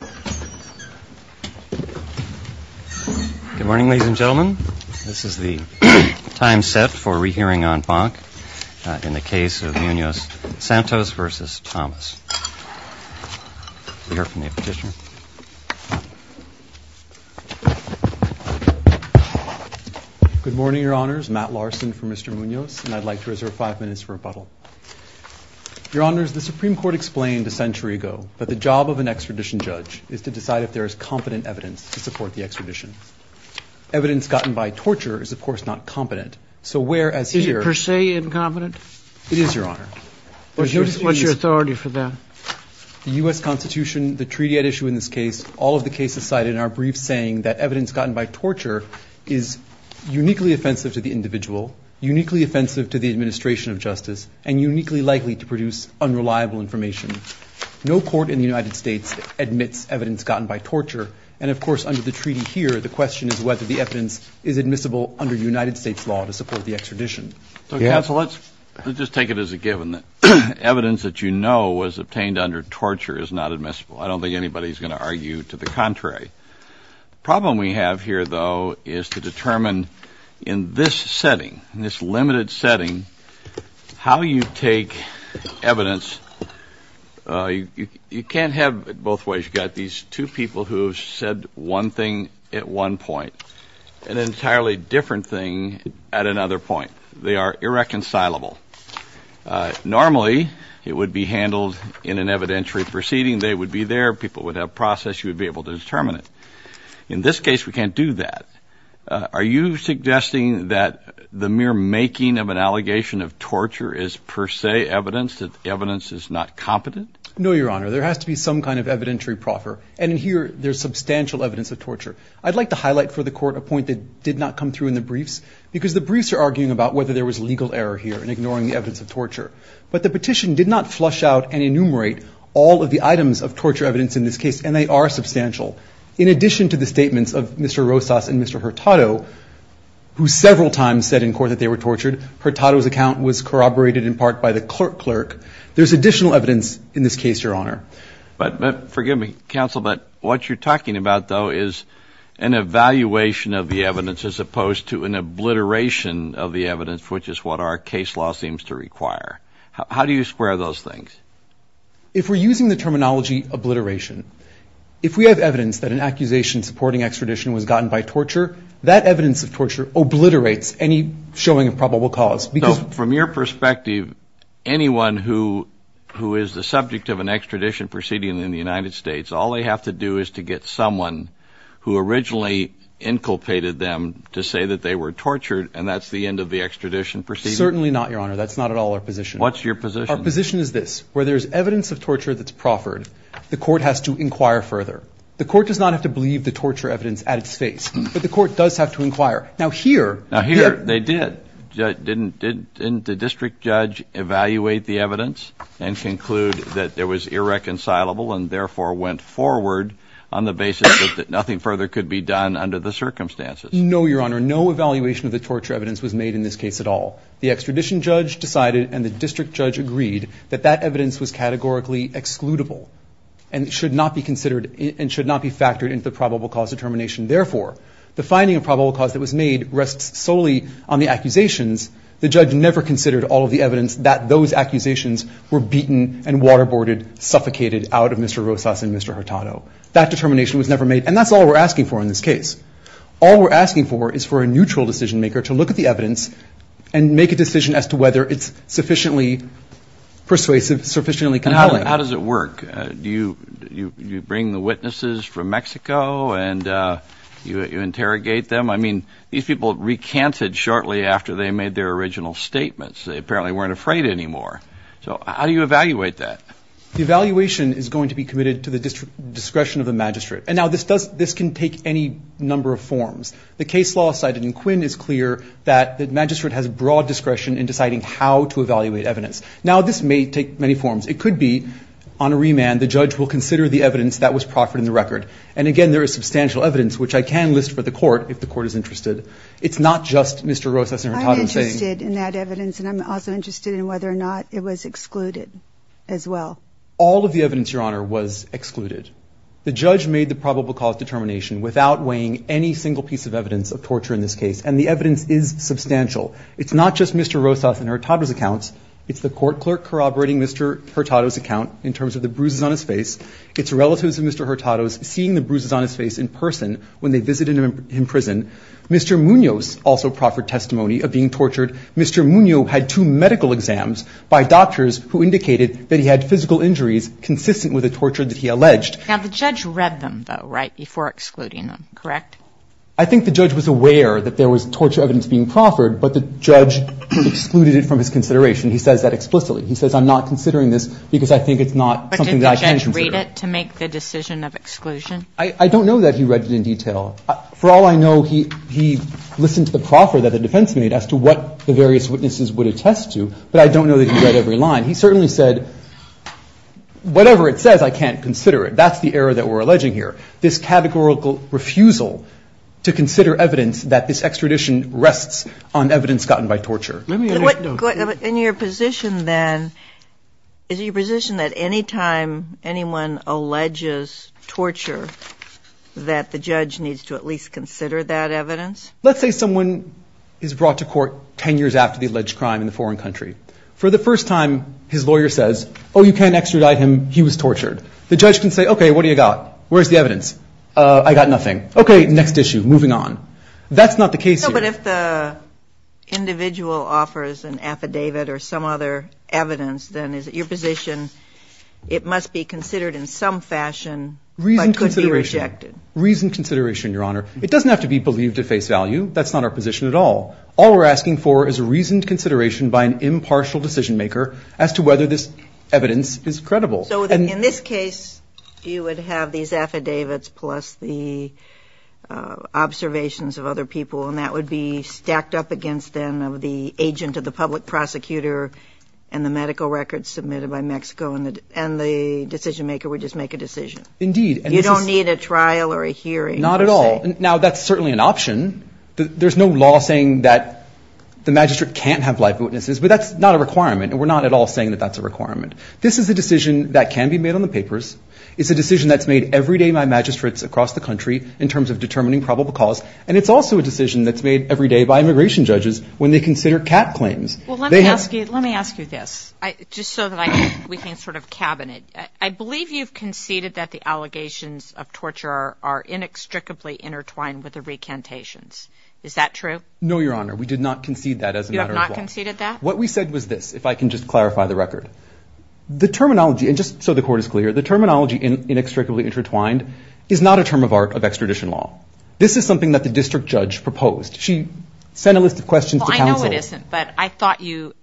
Good morning, ladies and gentlemen. This is the time set for re-hearing on Bank in the case of Munoz Santos v. Thomas. We'll hear from the petitioner. Good morning, Your Honors. Matt Larson for Mr. Munoz, and I'd like to reserve five minutes for rebuttal. Your Honors, the Supreme Court explained a century ago that the job of an extradition judge is to decide if there is competent evidence to support the extradition. Evidence gotten by torture is, of course, not competent. So where, as here- Is it per se incompetent? It is, Your Honor. What's your authority for that? The U.S. Constitution, the treaty at issue in this case, all of the cases cited in our brief saying that evidence gotten by torture is uniquely offensive to the individual, uniquely offensive to the administration of justice, and uniquely likely to produce unreliable information. No court in the United States admits evidence gotten by torture, and of course, under the treaty here, the question is whether the evidence is admissible under United States law to support the extradition. Counsel, let's just take it as a given that evidence that you know was obtained under torture is not admissible. I don't think anybody's going to argue to the contrary. The problem we have here, though, is to determine in this setting, in this limited setting, how you take evidence. You can't have it both ways. You've got these two people who have said one thing at one point, an entirely different thing at another point. They are irreconcilable. Normally, it would be handled in an evidentiary proceeding. They would be there. People would have a process. You would be able to determine it. In this case, we can't do that. Are you making of an allegation of torture is per se evidence that evidence is not competent? No, Your Honor. There has to be some kind of evidentiary proffer, and in here, there's substantial evidence of torture. I'd like to highlight for the court a point that did not come through in the briefs because the briefs are arguing about whether there was legal error here in ignoring the evidence of torture, but the petition did not flush out and enumerate all of the items of torture evidence in this case, and they are substantial. In addition to the statements of Mr. Rosas and Mr. Hurtado, who several times said in court that Hurtado's account was corroborated in part by the clerk, there's additional evidence in this case, Your Honor. Forgive me, counsel, but what you're talking about, though, is an evaluation of the evidence as opposed to an obliteration of the evidence, which is what our case law seems to require. How do you square those things? If we're using the terminology obliteration, if we have evidence that an accusation supporting extradition was gotten by torture, that evidence of torture obliterates any showing of probable cause. So from your perspective, anyone who is the subject of an extradition proceeding in the United States, all they have to do is to get someone who originally inculpated them to say that they were tortured, and that's the end of the extradition proceeding? Certainly not, Your Honor. That's not at all our position. What's your position? Our position is this. Where there's evidence of torture that's proffered, the court has to inquire further. The court does not have to believe the torture evidence at its base, but the court does have to inquire. Now here... Now here, they did. Didn't the district judge evaluate the evidence and conclude that it was irreconcilable and therefore went forward on the basis that nothing further could be done under the circumstances? No, Your Honor. No evaluation of the torture evidence was made in this case at all. The extradition judge decided and the district judge agreed that that evidence was categorically excludable and should not be considered and should not be factored into the probable cause determination. Therefore, the finding of probable cause that was made rests solely on the accusations. The judge never considered all of the evidence that those accusations were beaten and waterboarded, suffocated out of Mr. Rosas and Mr. Hurtado. That determination was never made, and that's all we're asking for in this case. All we're asking for is for a neutral decision maker to look at the evidence and make a decision as to whether it's sufficiently persuasive, sufficiently conniving. How does it work? Do you bring the witnesses from Mexico and you interrogate them? I mean, these people recanted shortly after they made their original statements. They apparently weren't afraid anymore. So how do you evaluate that? The evaluation is going to be committed to the discretion of the magistrate. And now, this can take any number of forms. The case law cited in Quinn is clear that the magistrate has broad discretion in deciding how to evaluate evidence. Now, this may take many forms. It could be, on a remand, the judge will consider the evidence that was proffered in the record. And again, there is substantial evidence, which I can list for the court, if the court is interested. It's not just Mr. Rosas and Hurtado saying... I'm interested in that evidence, and I'm also interested in whether or not it was excluded as well. All of the evidence, Your Honor, was excluded. The judge made the probable cause determination without weighing any single piece of evidence of torture in this case. And the evidence is substantial. It's not just Mr. Rosas and Hurtado's accounts. It's the court clerk corroborating Mr. Hurtado's account in terms of the bruises on his face. It's relatives of Mr. Hurtado's seeing the bruises on his face in person when they visited him in prison. Mr. Munoz also proffered testimony of being tortured. Mr. Munoz had two medical exams by doctors who indicated that he had physical injuries consistent with the torture that he alleged. Now, the judge read them, though, right, before excluding them, correct? But the judge excluded it from his consideration. He says that explicitly. He says, I'm not considering this because I think it's not something that I can consider. But did the judge read it to make the decision of exclusion? I don't know that he read it in detail. For all I know, he listened to the proffer that the defense made as to what the various witnesses would attest to, but I don't know that he read every line. He certainly said, whatever it says, I can't consider it. That's the error that we're alleging here, this categorical refusal to consider evidence that this extradition rests on evidence gotten by torture. In your position, then, is it your position that any time anyone alleges torture that the judge needs to at least consider that evidence? Let's say someone is brought to court 10 years after the alleged crime in a foreign country. For the first time, his lawyer says, oh, you can't extradite him. He was tortured. The judge can say, okay, what do you got? Where's the evidence? I got nothing. Okay, next issue, moving on. That's not the case here. No, but if the individual offers an affidavit or some other evidence, then is it your position it must be considered in some fashion, but could be rejected? Reasoned consideration. Reasoned consideration, Your Honor. It doesn't have to be believed at face value. That's not our position at all. All we're asking for is a reasoned consideration by an impartial decision maker as to whether this evidence is credible. In this case, you would have these affidavits plus the observations of other people, and that would be stacked up against, then, the agent of the public prosecutor and the medical records submitted by Mexico, and the decision maker would just make a decision. Indeed. You don't need a trial or a hearing. Not at all. Now, that's certainly an option. There's no law saying that the magistrate can't have life witnesses, but that's not a requirement, and we're not at all saying that that's a requirement. This is a decision that can be made on the papers. It's a decision that's made every day by magistrates across the country in terms of determining probable cause, and it's also a decision that's made every day by immigration judges when they consider cat claims. Well, let me ask you this, just so that we can sort of cabin it. I believe you've conceded that the allegations of torture are inextricably intertwined with the recantations. Is that true? No, Your Honor. We did not concede that as a matter of law. You have not conceded that? What we said was this, if I can just clarify the record. The terminology, and just so the Court is clear, the terminology inextricably intertwined is not a term of art of extradition law. This is something that the district judge proposed. She sent a list of questions to counsel. Well, I know it isn't, but I thought you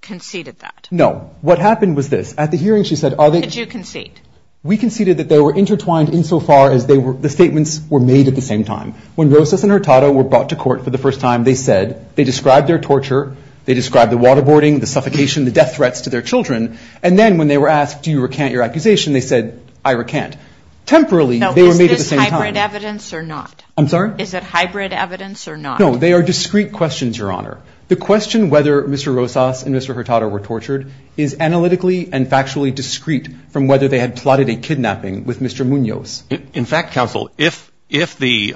conceded that. No. What happened was this. At the hearing, she said, are they- Did you concede? We conceded that they were intertwined insofar as the statements were made at the same time. When Rosas and Hurtado were brought to court for the first time, they said, they described their torture, they described the waterboarding, the suffocation, the death threats to their children, and then when they were asked, do you recant your accusation, they said, I recant. Temporally, they were made at the same time. Is this hybrid evidence or not? I'm sorry? Is it hybrid evidence or not? No. They are discrete questions, Your Honor. The question whether Mr. Rosas and Mr. Hurtado were tortured is analytically and factually discrete from whether they had plotted a kidnapping with Mr. Munoz. In fact, counsel, if the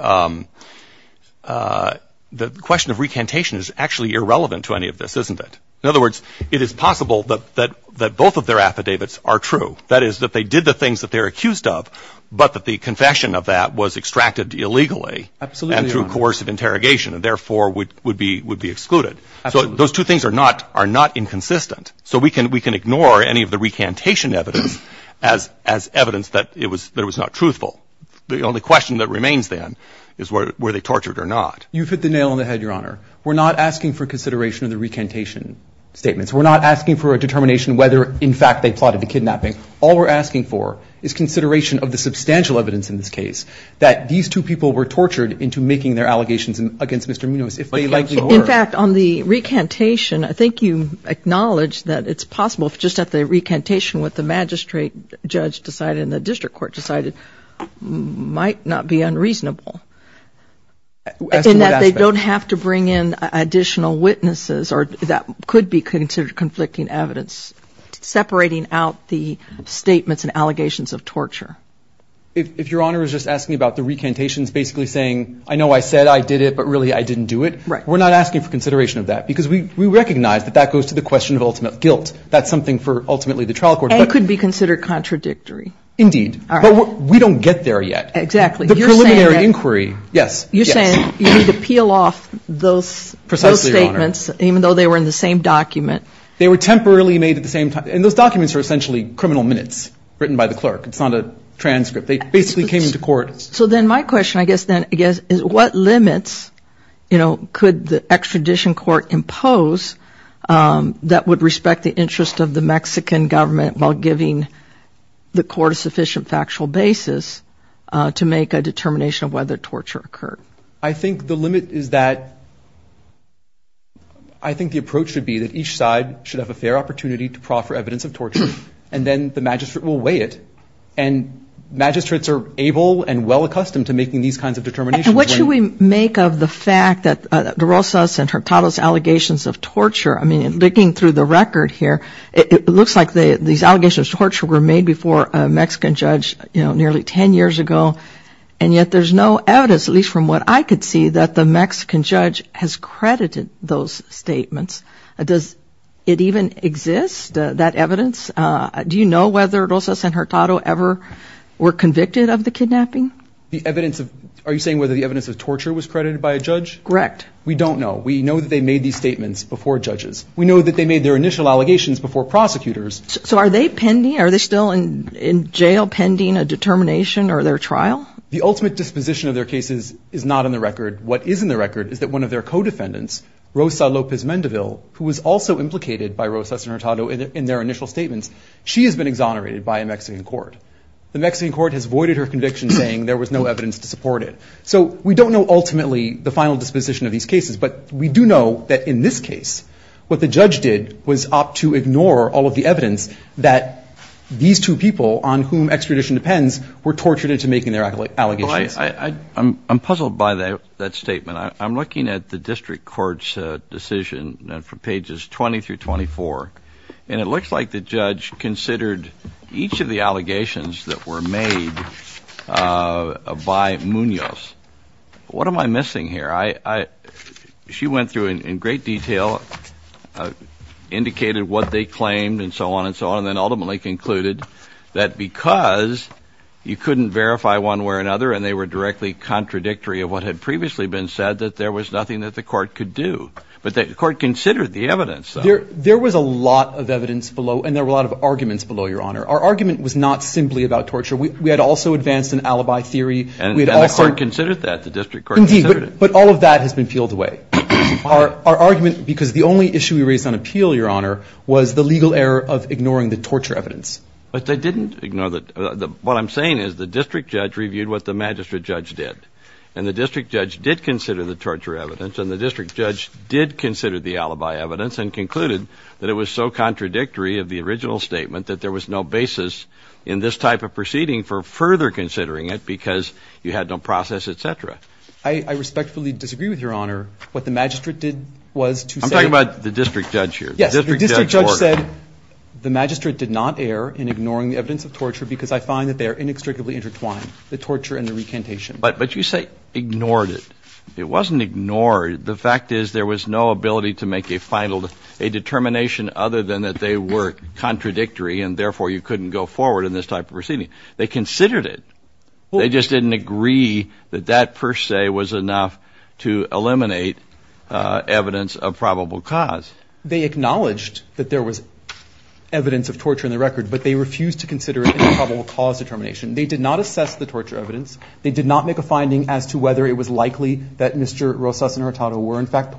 question of recantation is actually irrelevant to any of this, isn't it? In other words, it is possible that both of their affidavits are true. That is, that they did the things that they are accused of, but that the confession of that was extracted illegally and through coercive interrogation and therefore would be excluded. So those two things are not inconsistent. So we can ignore any of the recantation evidence as evidence that it was not truthful. The only question that remains then is whether they were tortured or not. You've hit the nail on the head, Your Honor. We're not asking for consideration of the recantation statements. We're not asking for a determination whether, in fact, they plotted the kidnapping. All we're asking for is consideration of the substantial evidence in this case that these two people were tortured into making their allegations against Mr. Munoz, if they likely were. In fact, on the recantation, I think you acknowledge that it's possible, just at the recantation, what the magistrate judge decided and the district court decided might not be unreasonable, in that they don't have to bring in additional witnesses that could be considered conflicting evidence, separating out the statements and allegations of torture. If Your Honor is just asking about the recantations basically saying, I know I said I did it, but really I didn't do it, we're not asking for consideration of that, because we recognize that that goes to the question of ultimate guilt. That's something for ultimately the trial court. And could be considered contradictory. Indeed. But we don't get there yet. Exactly. The preliminary inquiry, yes. You're saying you need to peel off those statements, even though they were in the same document. They were temporarily made at the same time. And those documents are essentially criminal minutes written by the clerk. It's not a transcript. They basically came into court. So then my question, I guess, then, is what limits could the extradition court impose that would respect the interest of the Mexican government while giving the court a sufficient factual basis to make a determination of whether torture occurred? I think the limit is that I think the approach should be that each side should have a fair opportunity to proffer evidence of torture. And then the magistrate will weigh it. And magistrates are able and well accustomed to making these kinds of determinations. What should we make of the fact that the Rosas and Hurtado's allegations of torture, I mean, looking through the record here, it looks like these allegations of torture were made before a Mexican judge, you know, nearly 10 years ago. And yet there's no evidence, at least from what I could see, that the Mexican judge has credited those statements. Does it even exist, that evidence? Do you know whether Rosas and Hurtado ever were convicted of the kidnapping? The evidence of, are you saying whether the evidence of torture was credited by a judge? Correct. We don't know. We know that they made these statements before judges. We know that they made their initial allegations before prosecutors. So are they pending, are they still in jail pending a determination or their trial? The ultimate disposition of their cases is not in the record. What is in the record is that one of their co-defendants, Rosa Lopez Mendeville, who was also implicated by Rosas and Hurtado in their initial statements, she has been exonerated by a Mexican court. The Mexican court has voided her saying there was no evidence to support it. So we don't know, ultimately, the final disposition of these cases, but we do know that in this case, what the judge did was opt to ignore all of the evidence that these two people, on whom extradition depends, were tortured into making their allegations. Well, I'm puzzled by that statement. I'm looking at the district court's decision from pages 20 through 24, and it looks like the judge considered each of the allegations that were made by Munoz. What am I missing here? She went through in great detail, indicated what they claimed and so on and so on, and then ultimately concluded that because you couldn't verify one way or another, and they were directly contradictory of what had previously been said, that there was nothing that the court could do. But the court considered the evidence, though. There was a lot of evidence below, and there were a lot of arguments below Our argument was not simply about torture. We had also advanced an alibi theory. And the court considered that. The district court considered it. Indeed, but all of that has been peeled away. Our argument, because the only issue we raised on appeal, Your Honor, was the legal error of ignoring the torture evidence. But they didn't ignore that. What I'm saying is the district judge reviewed what the magistrate judge did, and the district judge did consider the torture evidence, and the district judge did consider the alibi evidence and concluded that it was so contradictory of the original statement that there was no basis in this type of proceeding for further considering it because you had no process, et cetera. I respectfully disagree with Your Honor. What the magistrate did was to say I'm talking about the district judge here. Yes, the district judge said the magistrate did not err in ignoring the evidence of torture because I find that they are inextricably intertwined, the torture and the recantation. But you say ignored it. It wasn't ignored. The fact is there was no ability to make a final determination other than that they were contradictory and therefore you couldn't go forward in this type of proceeding. They considered it. They just didn't agree that that per se was enough to eliminate evidence of probable cause. They acknowledged that there was evidence of torture in the record, but they refused to consider it a probable cause determination. They did not assess the torture evidence. They did not make a finding as to whether it was likely that Mr. Rosas and Hurtado were in fact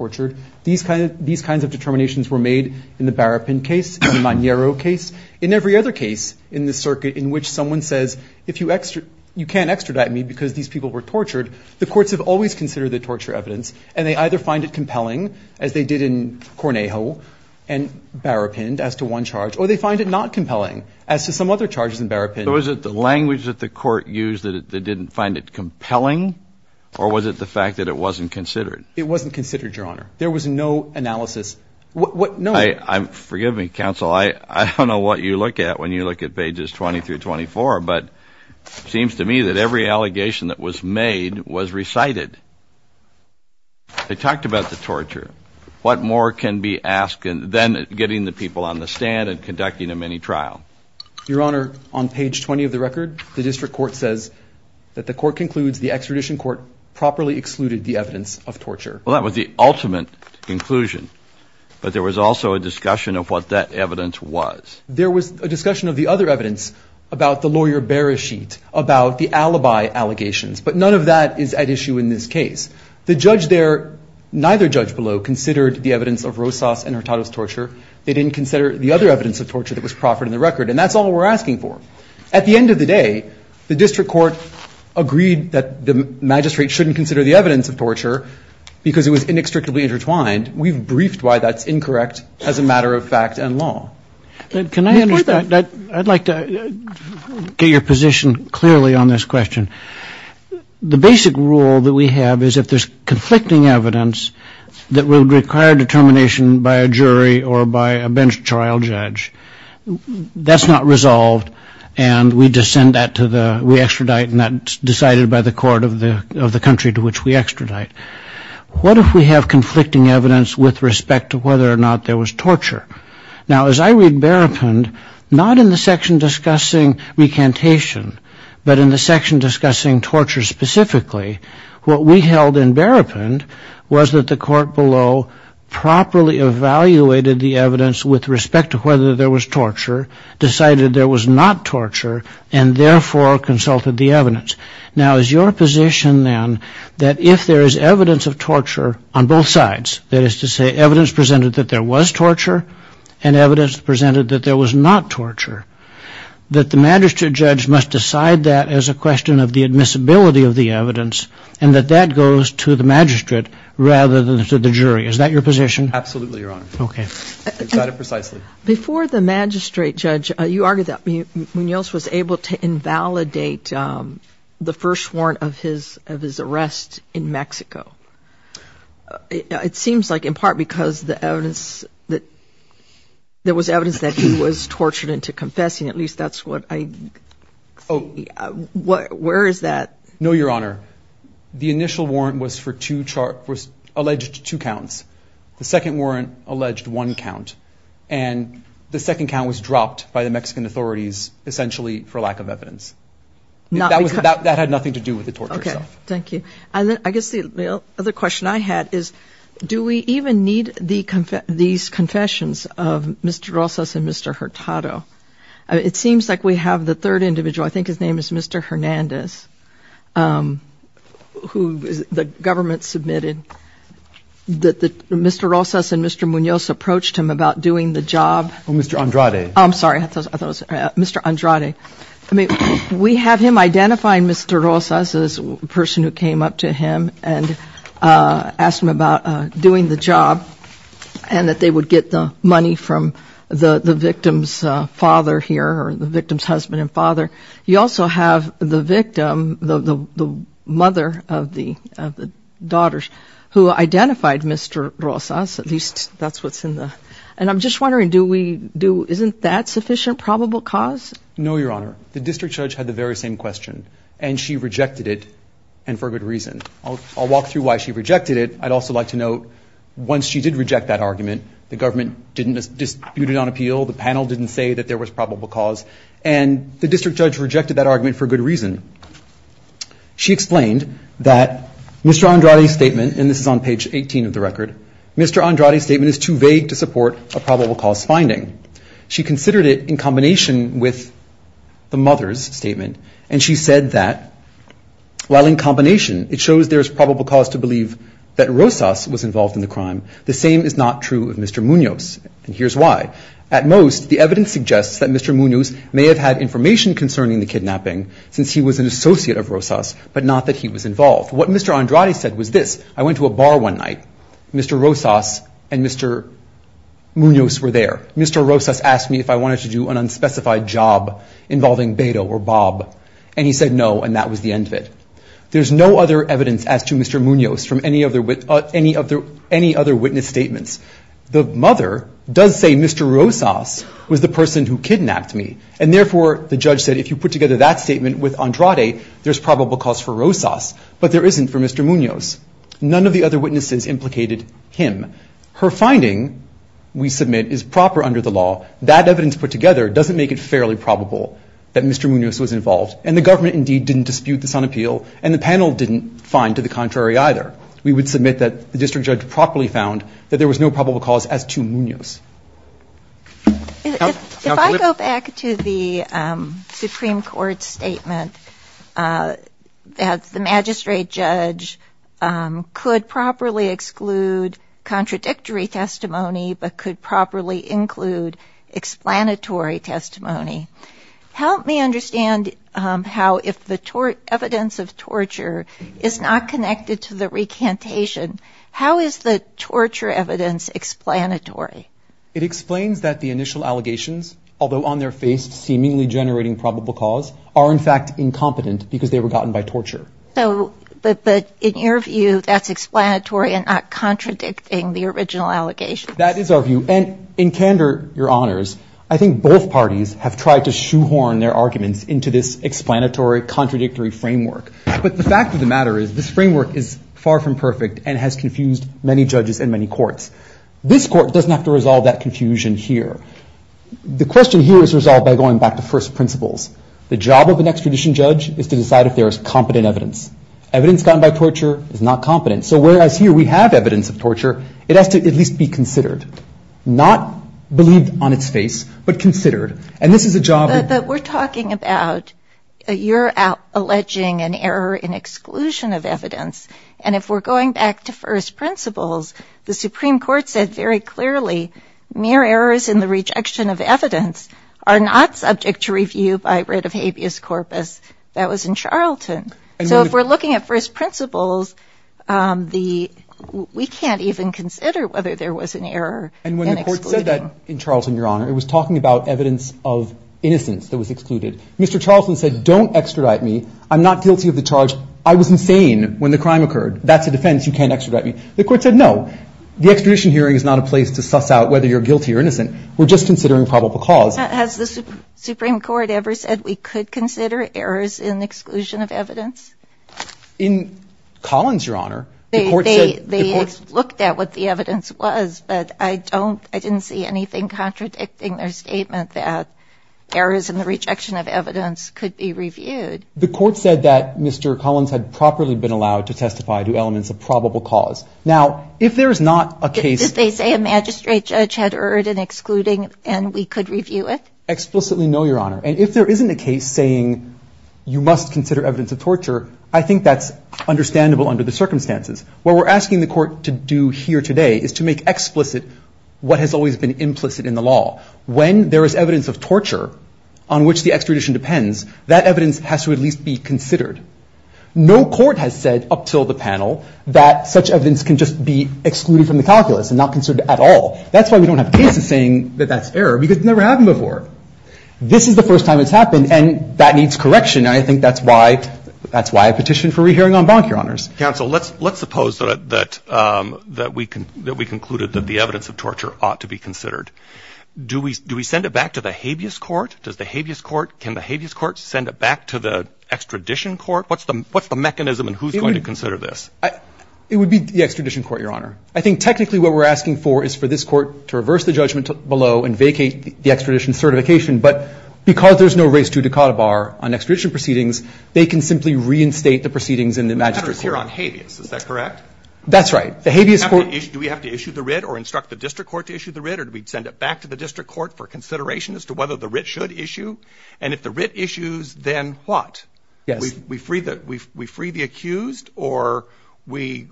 these kinds of determinations were made in the Barapin case, the Magnero case, in every other case in the circuit in which someone says if you can't extradite me because these people were tortured, the courts have always considered the torture evidence and they either find it compelling as they did in Cornejo and Barapin as to one charge, or they find it not compelling as to some other charges in Barapin. Was it the language that the court used that they didn't find it compelling or was it the fact that it wasn't considered? It wasn't considered, Your Honor. There was no analysis. Forgive me, counsel. I don't know what you look at when you look at pages 20 through 24, but it seems to me that every allegation that was made was recited. They talked about the torture. What more can be asked than getting the people on the stand and conducting a mini trial? Your Honor, on page 20 of the record, the district court says that the court concludes the extradition court properly excluded the evidence of torture. Well, that was the ultimate conclusion, but there was also a discussion of what that evidence was. There was a discussion of the other evidence about the lawyer Beresheet, about the alibi allegations, but none of that is at issue in this case. The judge there, neither judge below, considered the evidence of Rosas and Hurtado's torture. They didn't consider the other evidence of torture that was proffered in the record, and that's all we're asking for. At the end of the day, the district court agreed that the magistrate shouldn't consider the evidence of torture because it was inextricably intertwined. We've briefed why that's incorrect as a matter of fact and law. Can I add to that? I'd like to get your position clearly on this question. The basic rule that we have is if there's conflicting evidence that would require determination by a jury or by a bench trial judge, that's not resolved, and we just send that to the, we extradite, and that's decided by the court of the country to which we extradite. What if we have conflicting evidence with respect to whether or not there was torture? Now, as I read Berepend, not in the section discussing recantation, but in the section discussing torture specifically, what we held in Berepend was that the court below properly evaluated the evidence with respect to whether there was torture, decided there was not torture, and therefore consulted the evidence. Now, is your position then that if there is evidence of torture on both sides, that is to say, evidence presented that there was torture and evidence presented that there was not torture, that the magistrate judge must decide that as a question of the admissibility of the evidence and that that goes to the magistrate rather than to the jury. Is that your position? Absolutely, Your Honor. Okay. Before the magistrate judge, you argued that Munoz was able to invalidate the first warrant of his arrest in Mexico. It seems like in part because the evidence that there was evidence that he was tortured into confessing. At least that's what I, where is that? No, Your Honor. The second warrant alleged one count and the second count was dropped by the Mexican authorities essentially for lack of evidence. That had nothing to do with the torture stuff. Thank you. And then I guess the other question I had is, do we even need these confessions of Mr. Rosas and Mr. Hurtado? It seems like we have the third individual. I think his name is Mr. Hernandez, who the government submitted that Mr. Rosas and Mr. Munoz approached him about doing the job. Mr. Andrade. I'm sorry, I thought it was Mr. Andrade. I mean, we have him identifying Mr. Rosas as a person who came up to him and asked him about doing the job and that they would get the money from the victim's father here or the victim's husband and father. You also have the victim, the mother of the daughters who identified Mr. Rosas. At least that's what's in the, and I'm just wondering, do we do, isn't that sufficient probable cause? No, Your Honor. The district judge had the very same question and she rejected it and for good reason. I'll walk through why she rejected it. I'd also like to note once she did reject that argument, the government didn't dispute it on appeal. The panel didn't say that there was probable cause and the district judge rejected that argument for good reason. She explained that Mr. Andrade's statement, and this is on page 18 of the record, Mr. Andrade's statement is too vague to support a probable cause finding. She considered it in combination with the mother's statement and she said that while in combination it shows there is probable cause to believe that Rosas was involved in the crime, the same is not true of Mr. Munoz and here's why. At most, the evidence suggests that Mr. Munoz may have had information concerning the kidnapping since he was an associate of Rosas, but not that he was involved. What Mr. Andrade said was this. I went to a bar one night. Mr. Rosas and Mr. Munoz were there. Mr. Rosas asked me if I wanted to do an unspecified job involving Beto or Bob and he said no and that was the end of it. There's no other evidence as to Mr. Munoz from any other witness statements. The mother does say Mr. Rosas was the person who kidnapped me and therefore the judge said if you put together that statement with Andrade, there's probable cause for Rosas, but there isn't for Mr. Munoz. None of the other witnesses implicated him. Her finding, we submit, is proper under the law. That evidence put together doesn't make it fairly probable that Mr. Munoz was involved and the government indeed didn't dispute this on appeal and the panel didn't find to the contrary either. We would submit that the district judge properly found that there was no probable cause as to Munoz. If I go back to the Supreme Court statement that the magistrate judge could properly exclude contradictory testimony but could properly include explanatory testimony, help me understand how if the evidence of torture is not connected to the recantation, how is the torture evidence explanatory? It explains that the initial allegations, although on their face seemingly generating probable cause, are in fact incompetent because they were gotten by torture. But in your view that's explanatory and not contradicting the original allegations? That is our view and in candor, Your Honors, I think both parties have tried to shoehorn their arguments into this explanatory contradictory framework. But the fact of the matter is this framework is far from perfect and has confused many judges in many courts. This court doesn't have to resolve that confusion here. The question here is resolved by going back to first principles. The job of an extradition judge is to decide if there is competent evidence. Evidence gotten by torture is not competent. So whereas here we have evidence of torture, it has to at least be considered. Not believed on its face but considered. And this is a job... But we're talking about your alleging an error in exclusion of evidence. And if we're going back to first principles, the Supreme Court said very clearly mere errors in the rejection of evidence are not subject to review by writ of habeas corpus. That was in Charlton. So if we're looking at first principles, the... We can't even consider whether there was an error. And when the court said that in Charlton, Your Honor, it was talking about evidence of innocence that was excluded. Mr. Charlton said, don't extradite me. I'm not guilty of the charge. I was insane when the crime occurred. That's a defense. You can't extradite me. The court said, no, the extradition hearing is not a place to suss out whether you're guilty or innocent. We're just considering probable cause. Has the Supreme Court ever said we could consider errors in exclusion of evidence? In Collins, Your Honor, the court said... They looked at what the evidence was, but I don't, I didn't see anything contradicting their statement that errors in the rejection of evidence could be reviewed. The court said that Mr. Collins had properly been allowed to testify to elements of probable cause. Now, if there is not a case... Did they say a magistrate judge had erred in excluding and we could review it? Explicitly, no, Your Honor. And if there isn't a case saying you must consider evidence of torture, I think that's understandable under the circumstances. What we're asking the court to do here today is to make explicit what has always been implicit in the law. When there is evidence of torture on which the extradition depends, that evidence has to at least be considered. No court has said up till the panel that such evidence can just be excluded from the calculus and not considered at all. That's why we don't have cases saying that that's error because it's never happened before. This is the first time it's happened and that needs correction. And I think that's why I petitioned for rehearing en banc, Your Honors. Counsel, let's suppose that we concluded that the evidence of torture ought to be considered. Do we send it back to the habeas court? Does the habeas court, can the habeas court send it back to the extradition court? What's the mechanism and who's going to consider this? It would be the extradition court, Your Honor. I think technically what we're asking for is for this court to reverse the judgment below and vacate the extradition certification. But because there's no race to decode a bar on extradition proceedings, they can simply reinstate the proceedings in the magistrate court. We're on habeas. Is that correct? That's right. Do we have to issue the writ or instruct the district court to issue the writ or do we send it back to the district court for consideration as to whether the writ should issue? And if the writ issues, then what? We free the accused or we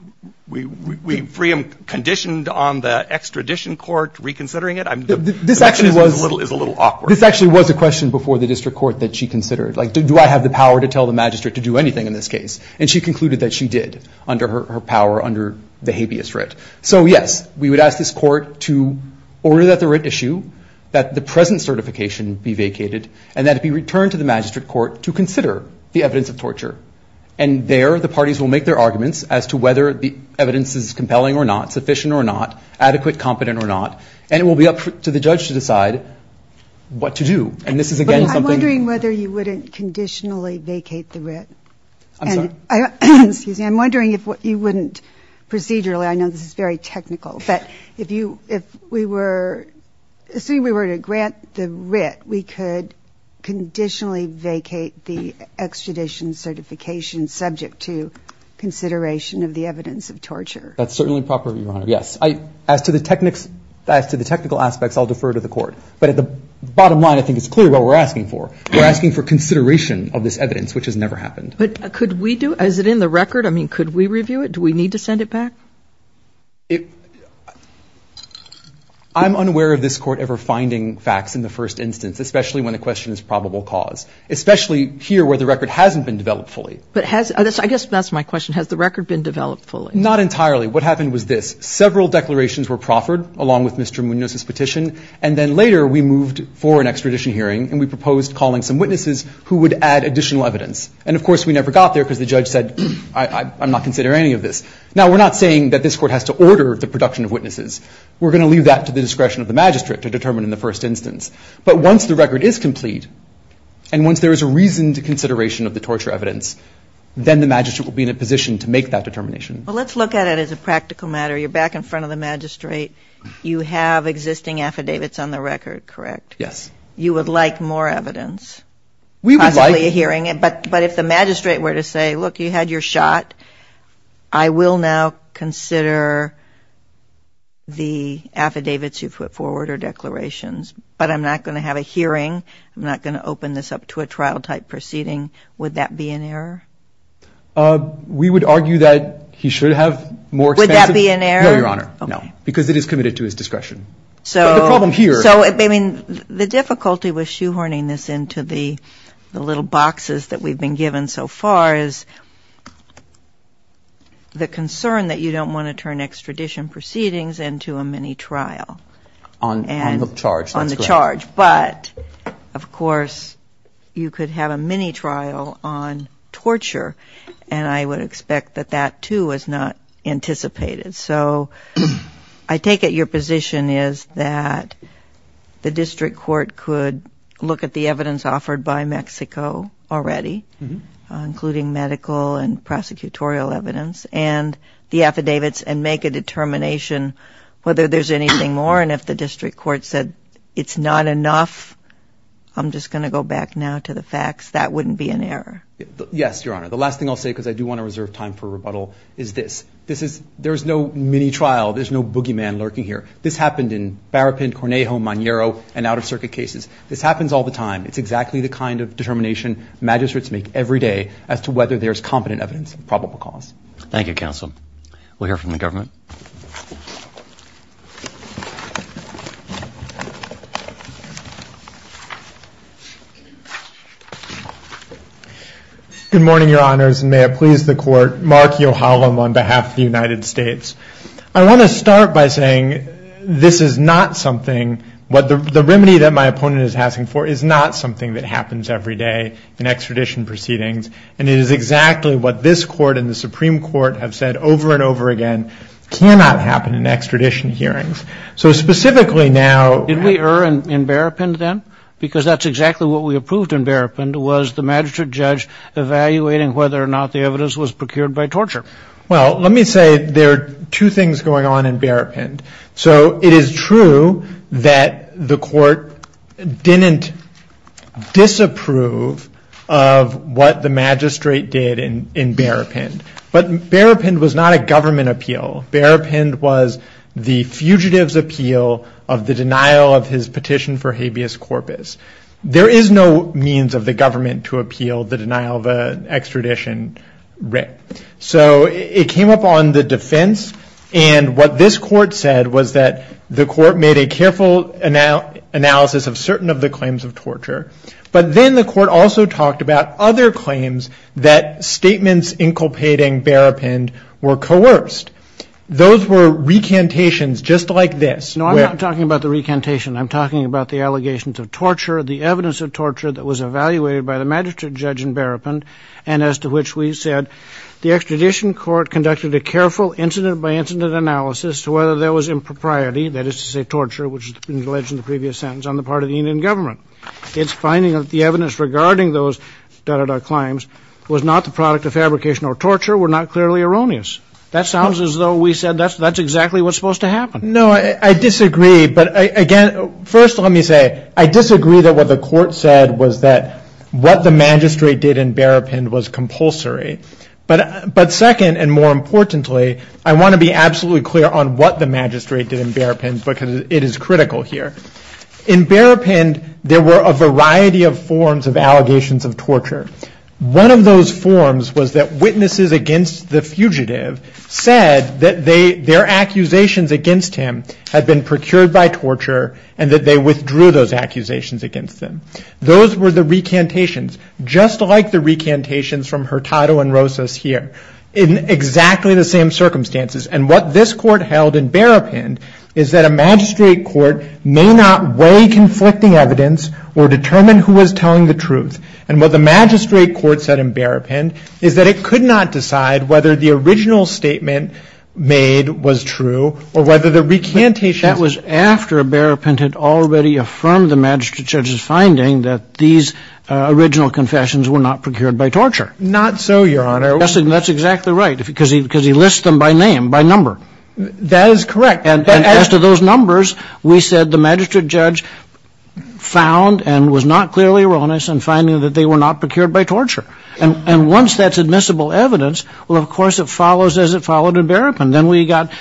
free him conditioned on the extradition court reconsidering it? This actually was a question before the district court that she considered. Like, do I have the power to tell the magistrate to do anything in this case? And she concluded that she did under her power under the habeas writ. So yes, we would ask this court to order that the writ issue, that the present certification be vacated, and that it be returned to the magistrate court to consider the evidence of torture. And there the parties will make their arguments as to whether the evidence is compelling or not, sufficient or not, adequate, competent or not. And it will be up to the judge to decide what to do. And this is, again, something... I'm wondering whether you wouldn't conditionally vacate the writ. I'm sorry? I'm wondering if you wouldn't procedurally, I know this is very technical, but if we were, assuming we were to grant the writ, we could conditionally vacate the extradition certification That's certainly proper, Your Honor. As to the technical aspects, I'll defer to the court. But at the bottom line, I think it's clear what we're asking for. We're asking for consideration of this evidence, which has never happened. But could we do... Is it in the record? I mean, could we review it? Do we need to send it back? I'm unaware of this court ever finding facts in the first instance, especially when the question is probable cause, especially here where the record hasn't been developed fully. But has... I guess that's my question. Has the record been developed fully? Not entirely. What happened was this. Several declarations were proffered, along with Mr. Munoz's petition. And then later, we moved for an extradition hearing, and we proposed calling some witnesses who would add additional evidence. And of course, we never got there because the judge said, I'm not considering any of this. Now, we're not saying that this court has to order the production of witnesses. We're going to leave that to the discretion of the magistrate to determine in the first instance. But once the record is complete, and once there is a reasoned consideration of the torture evidence, then the magistrate will be in a position to make that determination. Well, let's look at it as a practical matter. You're back in front of the magistrate. You have existing affidavits on the record, correct? Yes. You would like more evidence? We would like... Possibly a hearing. But if the magistrate were to say, look, you had your shot. I will now consider the affidavits you put forward or declarations. But I'm not going to have a hearing. I'm not going to open this up to a trial-type proceeding. Would that be an error? We would argue that he should have more expensive... Would that be an error? No, Your Honor. No. Because it is committed to his discretion. So the problem here... So the difficulty with shoehorning this into the little boxes that we've been given so far is the concern that you don't want to turn extradition proceedings into a mini-trial. On the charge. On the charge. But of course, you could have a mini-trial on torture. And I would expect that that, too, is not anticipated. So I take it your position is that the district court could look at the evidence offered by Mexico already, including medical and prosecutorial evidence, and the affidavits, and make a determination whether there's anything more. And if the district court said it's not enough, I'm just going to go back now to the facts, Yes, Your Honor. The last thing I'll say, because I do want to reserve time for rebuttal, is this. This is... There's no mini-trial. There's no boogeyman lurking here. This happened in Barapin, Cornejo, Magnero, and out-of-circuit cases. This happens all the time. It's exactly the kind of determination magistrates make every day as to whether there's competent evidence of probable cause. Thank you, counsel. We'll hear from the government. Good morning, Your Honors, and may it please the Court. Mark Yohalem on behalf of the United States. I want to start by saying this is not something... The remedy that my opponent is asking for is not something that happens every day in extradition proceedings, and it is exactly what this Court and the Supreme Court have said over and over again. Cannot happen in extradition hearings. So specifically now... Did we err in Barapin then? Because that's exactly what we approved in Barapin, was the magistrate judge evaluating whether or not the evidence was procured by torture. Well, let me say there are two things going on in Barapin. So it is true that the Court didn't disapprove of what the magistrate did in Barapin. But Barapin was not a government appeal. Barapin was the fugitive's appeal of the denial of his petition for habeas corpus. There is no means of the government to appeal the denial of an extradition writ. So it came up on the defense. And what this Court said was that the Court made a careful analysis of certain of the claims of torture. But then the Court also talked about other claims that statements inculpating Barapin were coerced. Those were recantations just like this. No, I'm not talking about the recantation. I'm talking about the allegations of torture, the evidence of torture that was evaluated by the magistrate judge in Barapin, and as to which we said the extradition court conducted a careful incident-by-incident analysis to whether there was impropriety, that is to say torture, which has been alleged in the previous sentence on the part of the Indian government. It's finding that the evidence regarding those... claims was not the product of fabrication or torture, were not clearly erroneous. That sounds as though we said that's exactly what's supposed to happen. No, I disagree. But again, first, let me say, I disagree that what the Court said was that what the magistrate did in Barapin was compulsory. But second, and more importantly, I want to be absolutely clear on what the magistrate did in Barapin because it is critical here. In Barapin, there were a variety of forms of allegations of torture. One of those forms was that witnesses against the fugitive said that their accusations against him had been procured by torture and that they withdrew those accusations against them. Those were the recantations, just like the recantations from Hurtado and Rosas here, in exactly the same circumstances. And what this Court held in Barapin is that a magistrate court may not weigh conflicting evidence or determine who was telling the truth. And what the magistrate court said in Barapin is that it could not decide whether the original statement made was true or whether the recantation... That was after Barapin had already affirmed the magistrate judge's finding that these original confessions were not procured by torture. Not so, Your Honor. That's exactly right, because he lists them by name, by number. That is correct. And as to those numbers, we said the magistrate judge found and was not clearly erroneous in finding that they were not procured by torture. And once that's admissible evidence, well, of course, it follows as it followed in Barapin. Then we got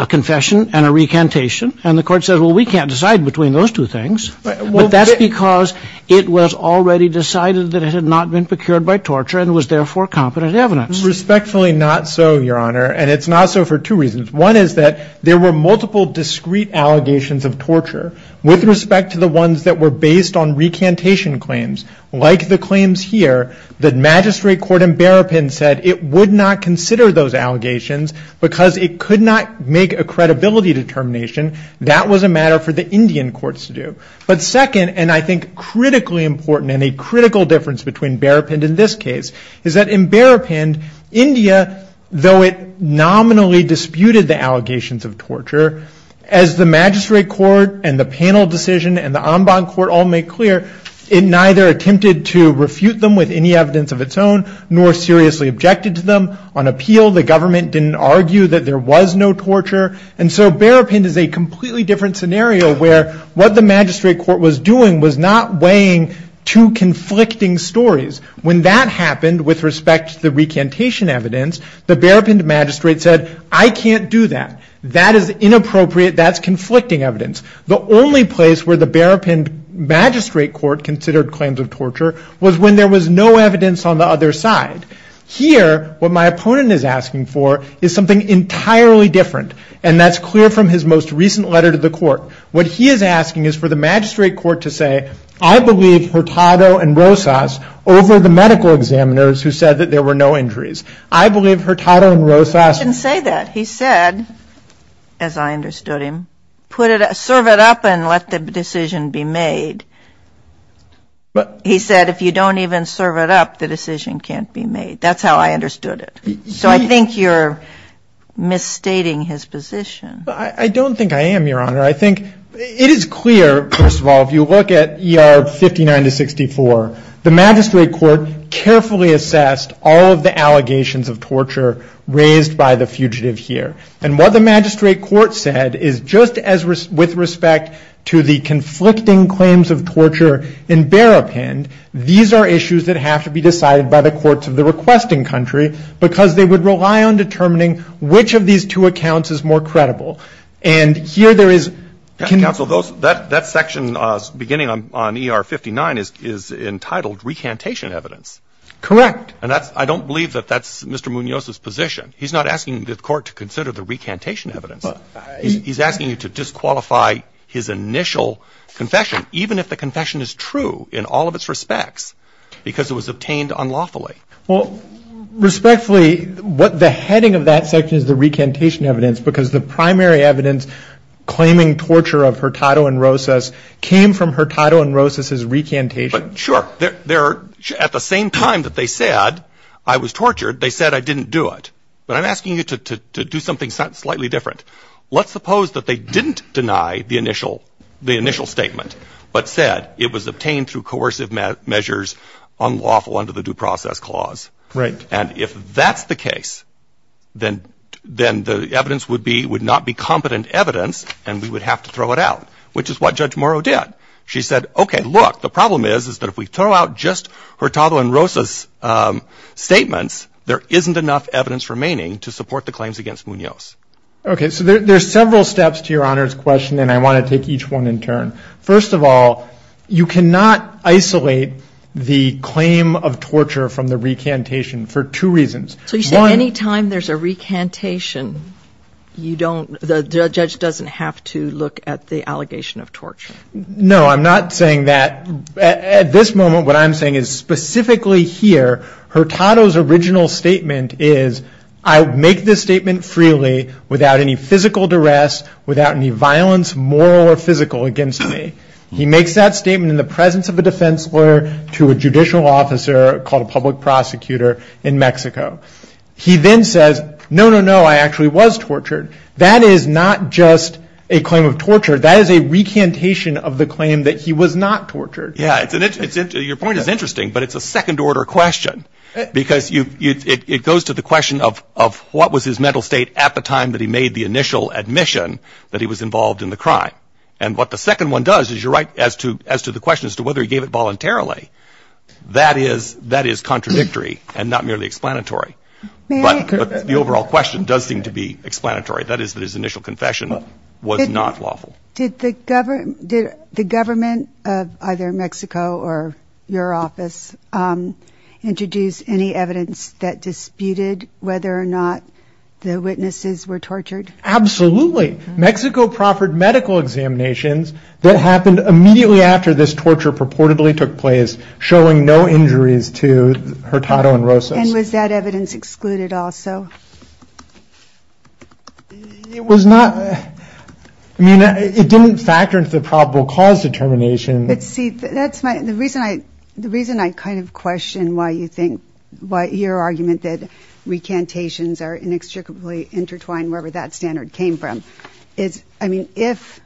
a confession and a recantation, and the Court said, well, we can't decide between those two things, but that's because it was already decided that it had not been procured by torture. Respectfully, not so, Your Honor. And it's not so for two reasons. One is that there were multiple discreet allegations of torture with respect to the ones that were based on recantation claims. Like the claims here, the magistrate court in Barapin said it would not consider those allegations because it could not make a credibility determination. That was a matter for the Indian courts to do. But second, and I think critically important and a critical difference between Barapin and in this case, is that in Barapin, India, though it nominally disputed the allegations of torture, as the magistrate court and the panel decision and the Ambon court all made clear, it neither attempted to refute them with any evidence of its own nor seriously objected to them. On appeal, the government didn't argue that there was no torture. And so Barapin is a completely different scenario where what the magistrate court was doing was not weighing two conflicting stories. When that happened with respect to the recantation evidence, the Barapin magistrate said, I can't do that. That is inappropriate. That's conflicting evidence. The only place where the Barapin magistrate court considered claims of torture was when there was no evidence on the other side. Here, what my opponent is asking for is something entirely different. And that's clear from his most recent letter to the court. What he is asking is for the magistrate court to say, I believe Hurtado and Rosas over the medical examiners who said that there were no injuries. I believe Hurtado and Rosas. I didn't say that. He said, as I understood him, serve it up and let the decision be made. He said, if you don't even serve it up, the decision can't be made. That's how I understood it. So I think you're misstating his position. I don't think I am, Your Honor. It is clear, first of all, if you look at ER 59 to 64, the magistrate court carefully assessed all of the allegations of torture raised by the fugitive here. And what the magistrate court said is, just as with respect to the conflicting claims of torture in Barapin, these are issues that have to be decided by the courts of the requesting country, because they would rely on determining which of these two accounts is more credible. And here, there is can Counsel, that section beginning on ER 59 is entitled recantation evidence. Correct. And I don't believe that that's Mr. Munoz's position. He's not asking the court to consider the recantation evidence. He's asking you to disqualify his initial confession, even if the confession is true in all of its respects, because it was obtained unlawfully. Well, respectfully, the heading of that section is the recantation evidence, because the primary evidence claiming torture of Hurtado and Rosas came from Hurtado and Rosas's recantation. But sure, there are at the same time that they said I was tortured, they said I didn't do it. But I'm asking you to do something slightly different. Let's suppose that they didn't deny the initial the initial statement, but said it was obtained through coercive measures unlawful under the due process clause. Right. And if that's the case, then the evidence would be would not be competent evidence, and we would have to throw it out, which is what Judge Morrow did. She said, OK, look, the problem is that if we throw out just Hurtado and Rosas's statements, there isn't enough evidence remaining to support the claims against Munoz. OK, so there are several steps to Your Honor's question, and I want to take each one in turn. First of all, you cannot isolate the claim of torture from the recantation for two reasons. So you say any time there's a recantation, you don't the judge doesn't have to look at the allegation of torture. No, I'm not saying that at this moment. What I'm saying is specifically here, Hurtado's original statement is I make this statement freely without any physical duress, without any violence, moral or physical against me. He makes that statement in the presence of a defense lawyer to a judicial officer called a public prosecutor in Mexico. He then says, no, no, no, I actually was tortured. That is not just a claim of torture. That is a recantation of the claim that he was not tortured. Yeah, your point is interesting, but it's a second order question because it goes to the question of what was his mental state at the time that he made the initial admission that he was involved in the crime. And what the second one does is you're right as to the question as to whether he gave it voluntarily. That is that is contradictory and not merely explanatory. But the overall question does seem to be explanatory. That is that his initial confession was not lawful. Did the government did the government of either Mexico or your office introduce any evidence that disputed whether or not the witnesses were tortured? Absolutely. Mexico proffered medical examinations that happened immediately after this torture purportedly took place, showing no injuries to Hurtado and Rosas. And was that evidence excluded also? It was not. I mean, it didn't factor into the probable cause determination. But see, that's the reason I the reason I kind of question why you think what your argument that recantations are inextricably intertwined, wherever that standard came from. It's I mean, if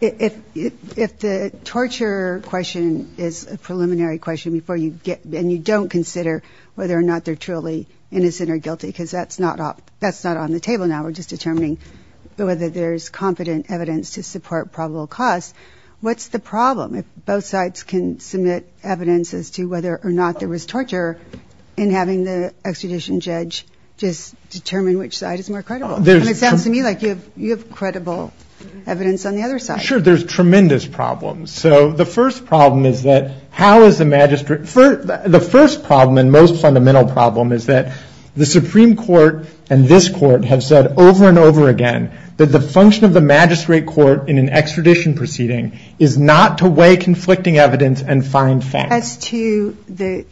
if if the torture question is a preliminary question before you get and you don't consider whether or not they're truly innocent or guilty, because that's not that's not on the table now, we're just determining whether there's confident evidence to support probable cause. What's the problem if both sides can submit evidence as to whether or not there was torture in having the extradition judge just determine which side is more credible? And it sounds to me like you have you have credible evidence on the other side. Sure. There's tremendous problems. So the first problem is that how is the magistrate for the first problem and most fundamental problem is that the Supreme Court and this court have said over and over again that the function of the magistrate court in an extradition proceeding is not to weigh conflicting evidence and find facts. As to the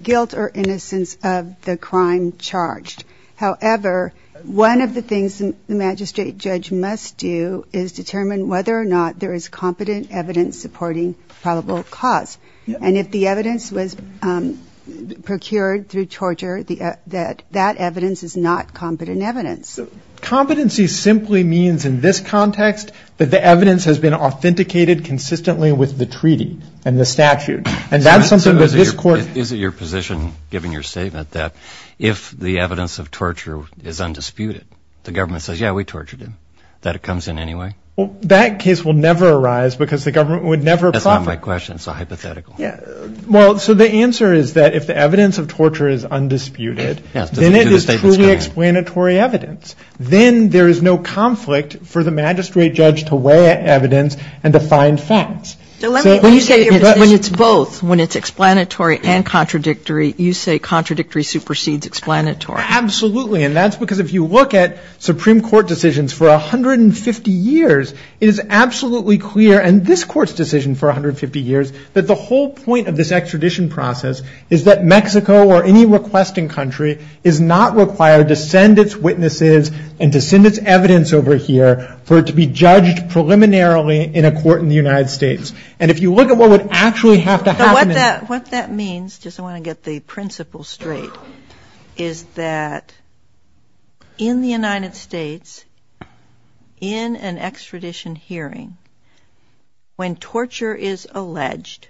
guilt or innocence of the crime charged. However, one of the things the magistrate judge must do is determine whether or not there is competent evidence supporting probable cause. And if the evidence was procured through torture, that that evidence is not competent evidence. Competency simply means in this context that the evidence has been authenticated consistently with the treaty and the statute. And that's something that this court. Is it your position, given your statement, that if the evidence of torture is undisputed, the government says, yeah, we tortured him, that it comes in any way? That case will never arise because the government would never. That's not my question. It's a hypothetical. Yeah. Well, so the answer is that if the evidence of torture is undisputed, then it is truly explanatory evidence. Then there is no conflict for the magistrate judge to weigh evidence and to find facts. When you say it's both, when it's explanatory and contradictory, you say contradictory supersedes explanatory. Absolutely. And that's because if you look at Supreme Court decisions for 150 years, it is absolutely clear in this court's decision for 150 years that the whole point of this extradition process is that Mexico or any requesting country is not required to send its witnesses and to send its evidence over here for it to be judged preliminarily in a court in the United States. And if you look at what would actually have to happen in... What that means, just I want to get the principle straight, is that in the United States, in an extradition hearing, when torture is alleged,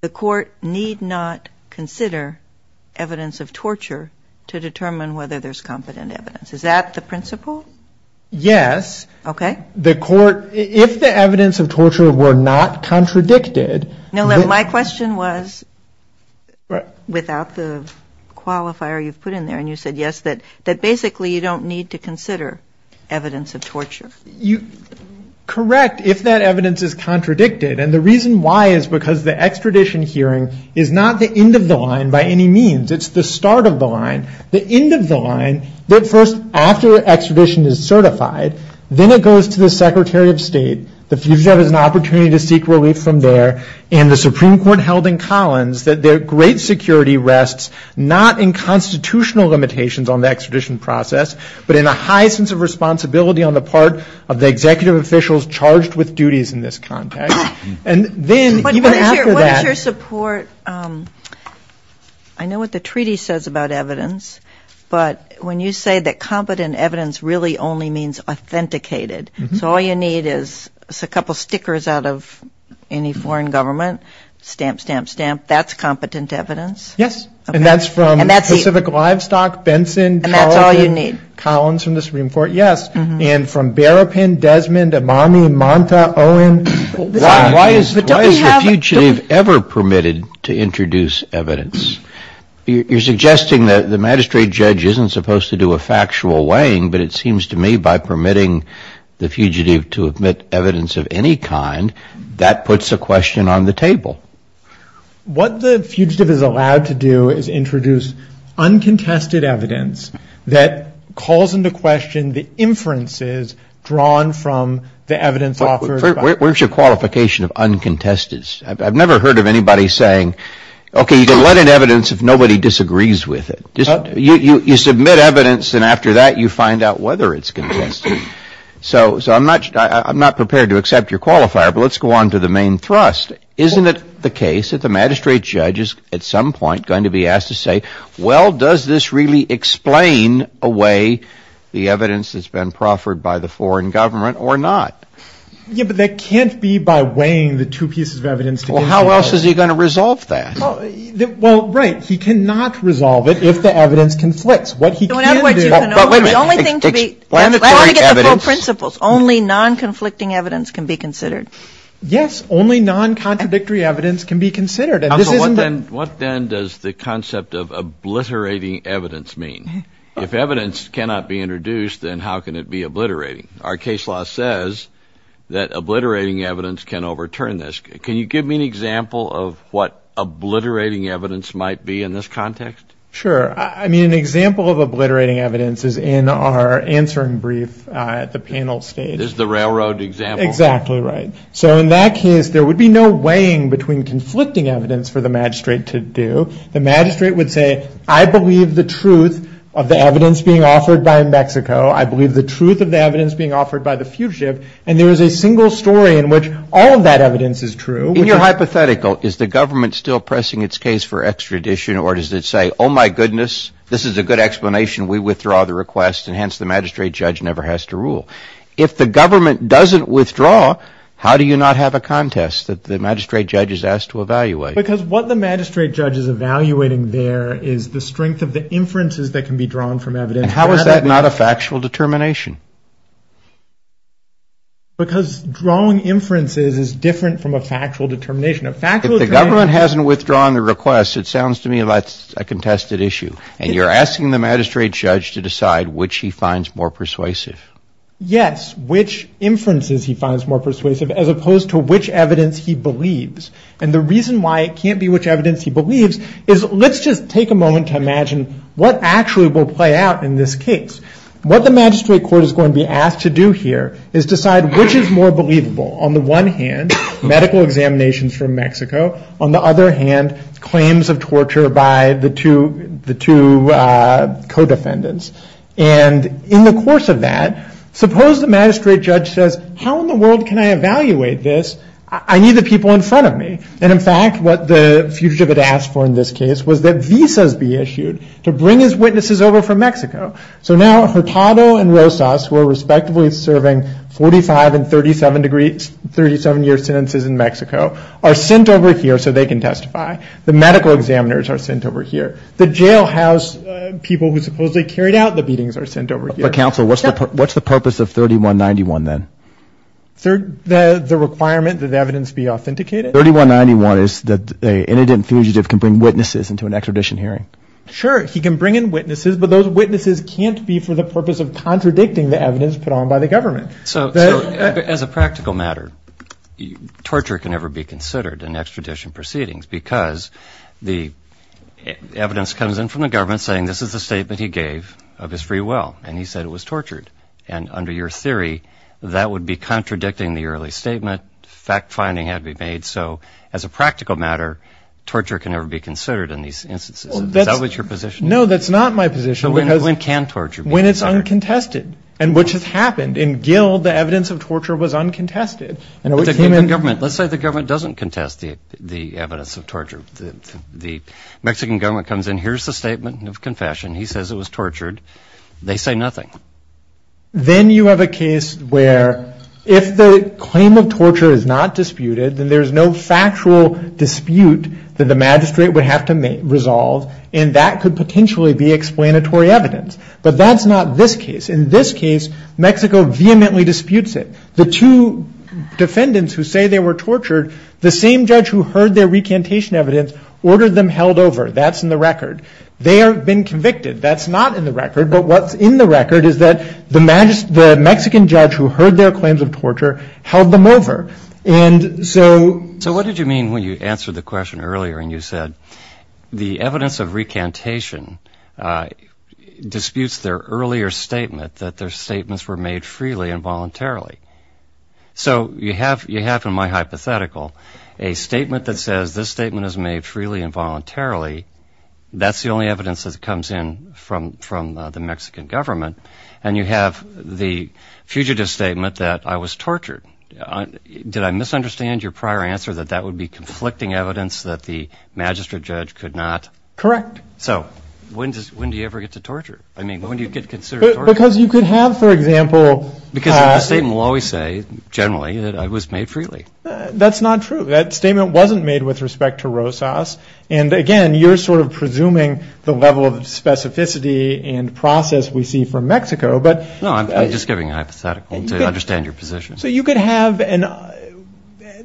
the court need not consider evidence of torture to determine whether there's competent evidence. Is that the principle? Yes. Okay. The court, if the evidence of torture were not contradicted... My question was, without the qualifier you've put in there, and you said yes, that basically you don't need to consider evidence of torture. Correct, if that evidence is contradicted. And the reason why is because the extradition hearing is not the end of the line by any means. It's the start of the line. The end of the line, that first after extradition is certified, then it goes to the Secretary of State. The fugitive has an opportunity to seek relief from there, and the Supreme Court held in Collins that their great security rests not in constitutional limitations on the extradition process, but in a high sense of responsibility on the part of the executive officials charged with duties in this context. And then even after that... What is your support? I know what the treaty says about evidence, but when you say that competent evidence really only means authenticated, so all you need is a couple of stickers out of any foreign government, stamp, stamp, stamp, that's competent evidence? Yes. And that's from Pacific Livestock, Benson, Collins from the Supreme Court, yes, and from Berrapin, Desmond, Amami, Monta, Owen. Why is the fugitive ever permitted to introduce evidence? You're suggesting that the magistrate judge isn't supposed to do a factual weighing, but it seems to me by permitting the fugitive to omit evidence of any kind, that puts the question on the table. What the fugitive is allowed to do is introduce uncontested evidence that calls into question the inferences drawn from the evidence offered by... Where's your qualification of uncontested? I've never heard of anybody saying, okay, you can let in evidence if nobody disagrees with it. You submit evidence and after that you find out whether it's contested. So I'm not prepared to accept your qualifier, but let's go on to the main thrust. Isn't it the case that the magistrate judge is at some point going to be asked to say, well, does this really explain away the evidence that's been proffered by the foreign government or not? Yeah, but that can't be by weighing the two pieces of evidence together. Well, how else is he going to resolve that? Well, right. He cannot resolve it if the evidence conflicts. What he can do... But wait a minute. Explanatory evidence... I want to get the full principles. Only non-conflicting evidence can be considered. Yes. Only non-contradictory evidence can be considered. What then does the concept of obliterating evidence mean? If evidence cannot be introduced, then how can it be obliterating? Our case law says that obliterating evidence can overturn this. Can you give me an example of what obliterating evidence might be in this context? Sure. I mean, an example of obliterating evidence is in our answering brief at the panel stage. Is the railroad example. Exactly right. So in that case, there would be no weighing between conflicting evidence for the magistrate to do. The magistrate would say, I believe the truth of the evidence being offered by Mexico. I believe the truth of the evidence being offered by the fugitive. And there is a single story in which all of that evidence is true. In your hypothetical, is the government still pressing its case for extradition or does it say, oh my goodness, this is a good explanation, we withdraw the request, and hence the magistrate judge never has to rule? If the government doesn't withdraw, how do you not have a contest that the magistrate judge is asked to evaluate? Because what the magistrate judge is evaluating there is the strength of the inferences that can be drawn from evidence. And how is that not a factual determination? Because drawing inferences is different from a factual determination. If the government hasn't withdrawn the request, it sounds to me like a contested issue. And you're asking the magistrate judge to decide which he finds more persuasive. Yes, which inferences he finds more persuasive as opposed to which evidence he believes. And the reason why it can't be which evidence he believes is, let's just take a moment to What the magistrate court is going to be asked to do here is decide which is more believable. On the one hand, medical examinations from Mexico. On the other hand, claims of torture by the two co-defendants. And in the course of that, suppose the magistrate judge says, how in the world can I evaluate this? I need the people in front of me. And in fact, what the fugitive had asked for in this case was that visas be issued to bring his witnesses over from Mexico. So now Hurtado and Rosas, who are respectively serving 45 and 37 year sentences in Mexico, are sent over here so they can testify. The medical examiners are sent over here. The jailhouse people who supposedly carried out the beatings are sent over here. But counsel, what's the purpose of 3191 then? The requirement that the evidence be authenticated? 3191 is that an innocent fugitive can bring witnesses into an extradition hearing. Sure. He can bring in witnesses, but those witnesses can't be for the purpose of contradicting the evidence put on by the government. So as a practical matter, torture can never be considered in extradition proceedings because the evidence comes in from the government saying this is a statement he gave of his free will. And he said it was tortured. And under your theory, that would be contradicting the early statement. Fact-finding had to be made. So as a practical matter, torture can never be considered in these instances. Is that what your position is? No, that's not my position. So when can torture be considered? When it's uncontested, and which has happened. In Guild, the evidence of torture was uncontested. But the government, let's say the government doesn't contest the evidence of torture. The Mexican government comes in, here's the statement of confession. He says it was tortured. They say nothing. Then you have a case where if the claim of torture is not disputed, then there's no factual dispute that the magistrate would have to resolve. And that could potentially be explanatory evidence. But that's not this case. In this case, Mexico vehemently disputes it. The two defendants who say they were tortured, the same judge who heard their recantation evidence ordered them held over. That's in the record. They have been convicted. That's not in the record. But what's in the record is that the Mexican judge who heard their claims of torture held them over. And so- So what did you mean when you answered the question earlier and you said, the evidence of recantation disputes their earlier statement that their statements were made freely and voluntarily. So you have in my hypothetical a statement that says this statement is made freely and voluntarily, that's the only evidence that comes in from the Mexican government. And you have the fugitive statement that I was tortured. Did I misunderstand your prior answer that that would be conflicting evidence that the magistrate judge could not- Correct. So when do you ever get to torture? I mean, when do you get considered torture? Because you could have, for example- Because the statement will always say, generally, that I was made freely. That's not true. That statement wasn't made with respect to Rosas. And again, you're sort of presuming the level of specificity and process we see from Mexico, but- No, I'm just giving a hypothetical to understand your position. So you could have an,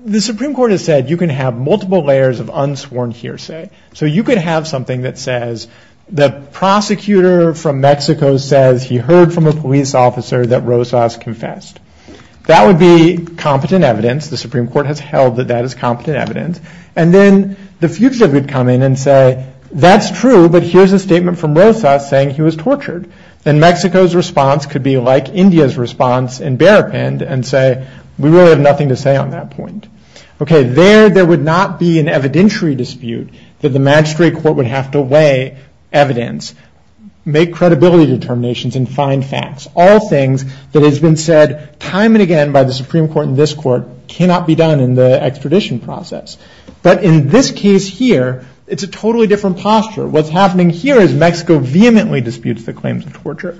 the Supreme Court has said you can have multiple layers of unsworn hearsay. So you could have something that says, the prosecutor from Mexico says he heard from a police officer that Rosas confessed. That would be competent evidence. The Supreme Court has held that that is competent evidence. And then the fugitive would come in and say, that's true, but here's a statement from Rosas saying he was tortured. Then Mexico's response could be like India's response and bear up end and say, we really have nothing to say on that point. Okay, there, there would not be an evidentiary dispute that the magistrate court would have to weigh evidence, make credibility determinations, and find facts. All things that has been said time and again by the Supreme Court and this court cannot be done in the extradition process. But in this case here, it's a totally different posture. What's happening here is Mexico vehemently disputes the claims of torture.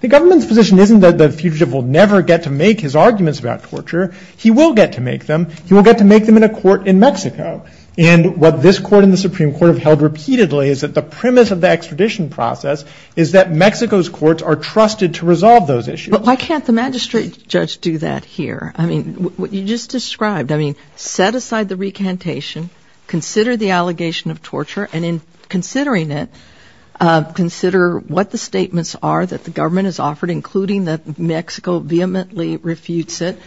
The government's position isn't that the fugitive will never get to make his arguments about torture. He will get to make them. He will get to make them in a court in Mexico. And what this court and the Supreme Court have held repeatedly is that the premise of the extradition process is that Mexico's courts are trusted to resolve those issues. But why can't the magistrate judge do that here? I mean, what you just described, I mean, set aside the recantation, consider the allegation of torture. And in considering it, consider what the statements are that the government has offered, including that Mexico vehemently refutes it.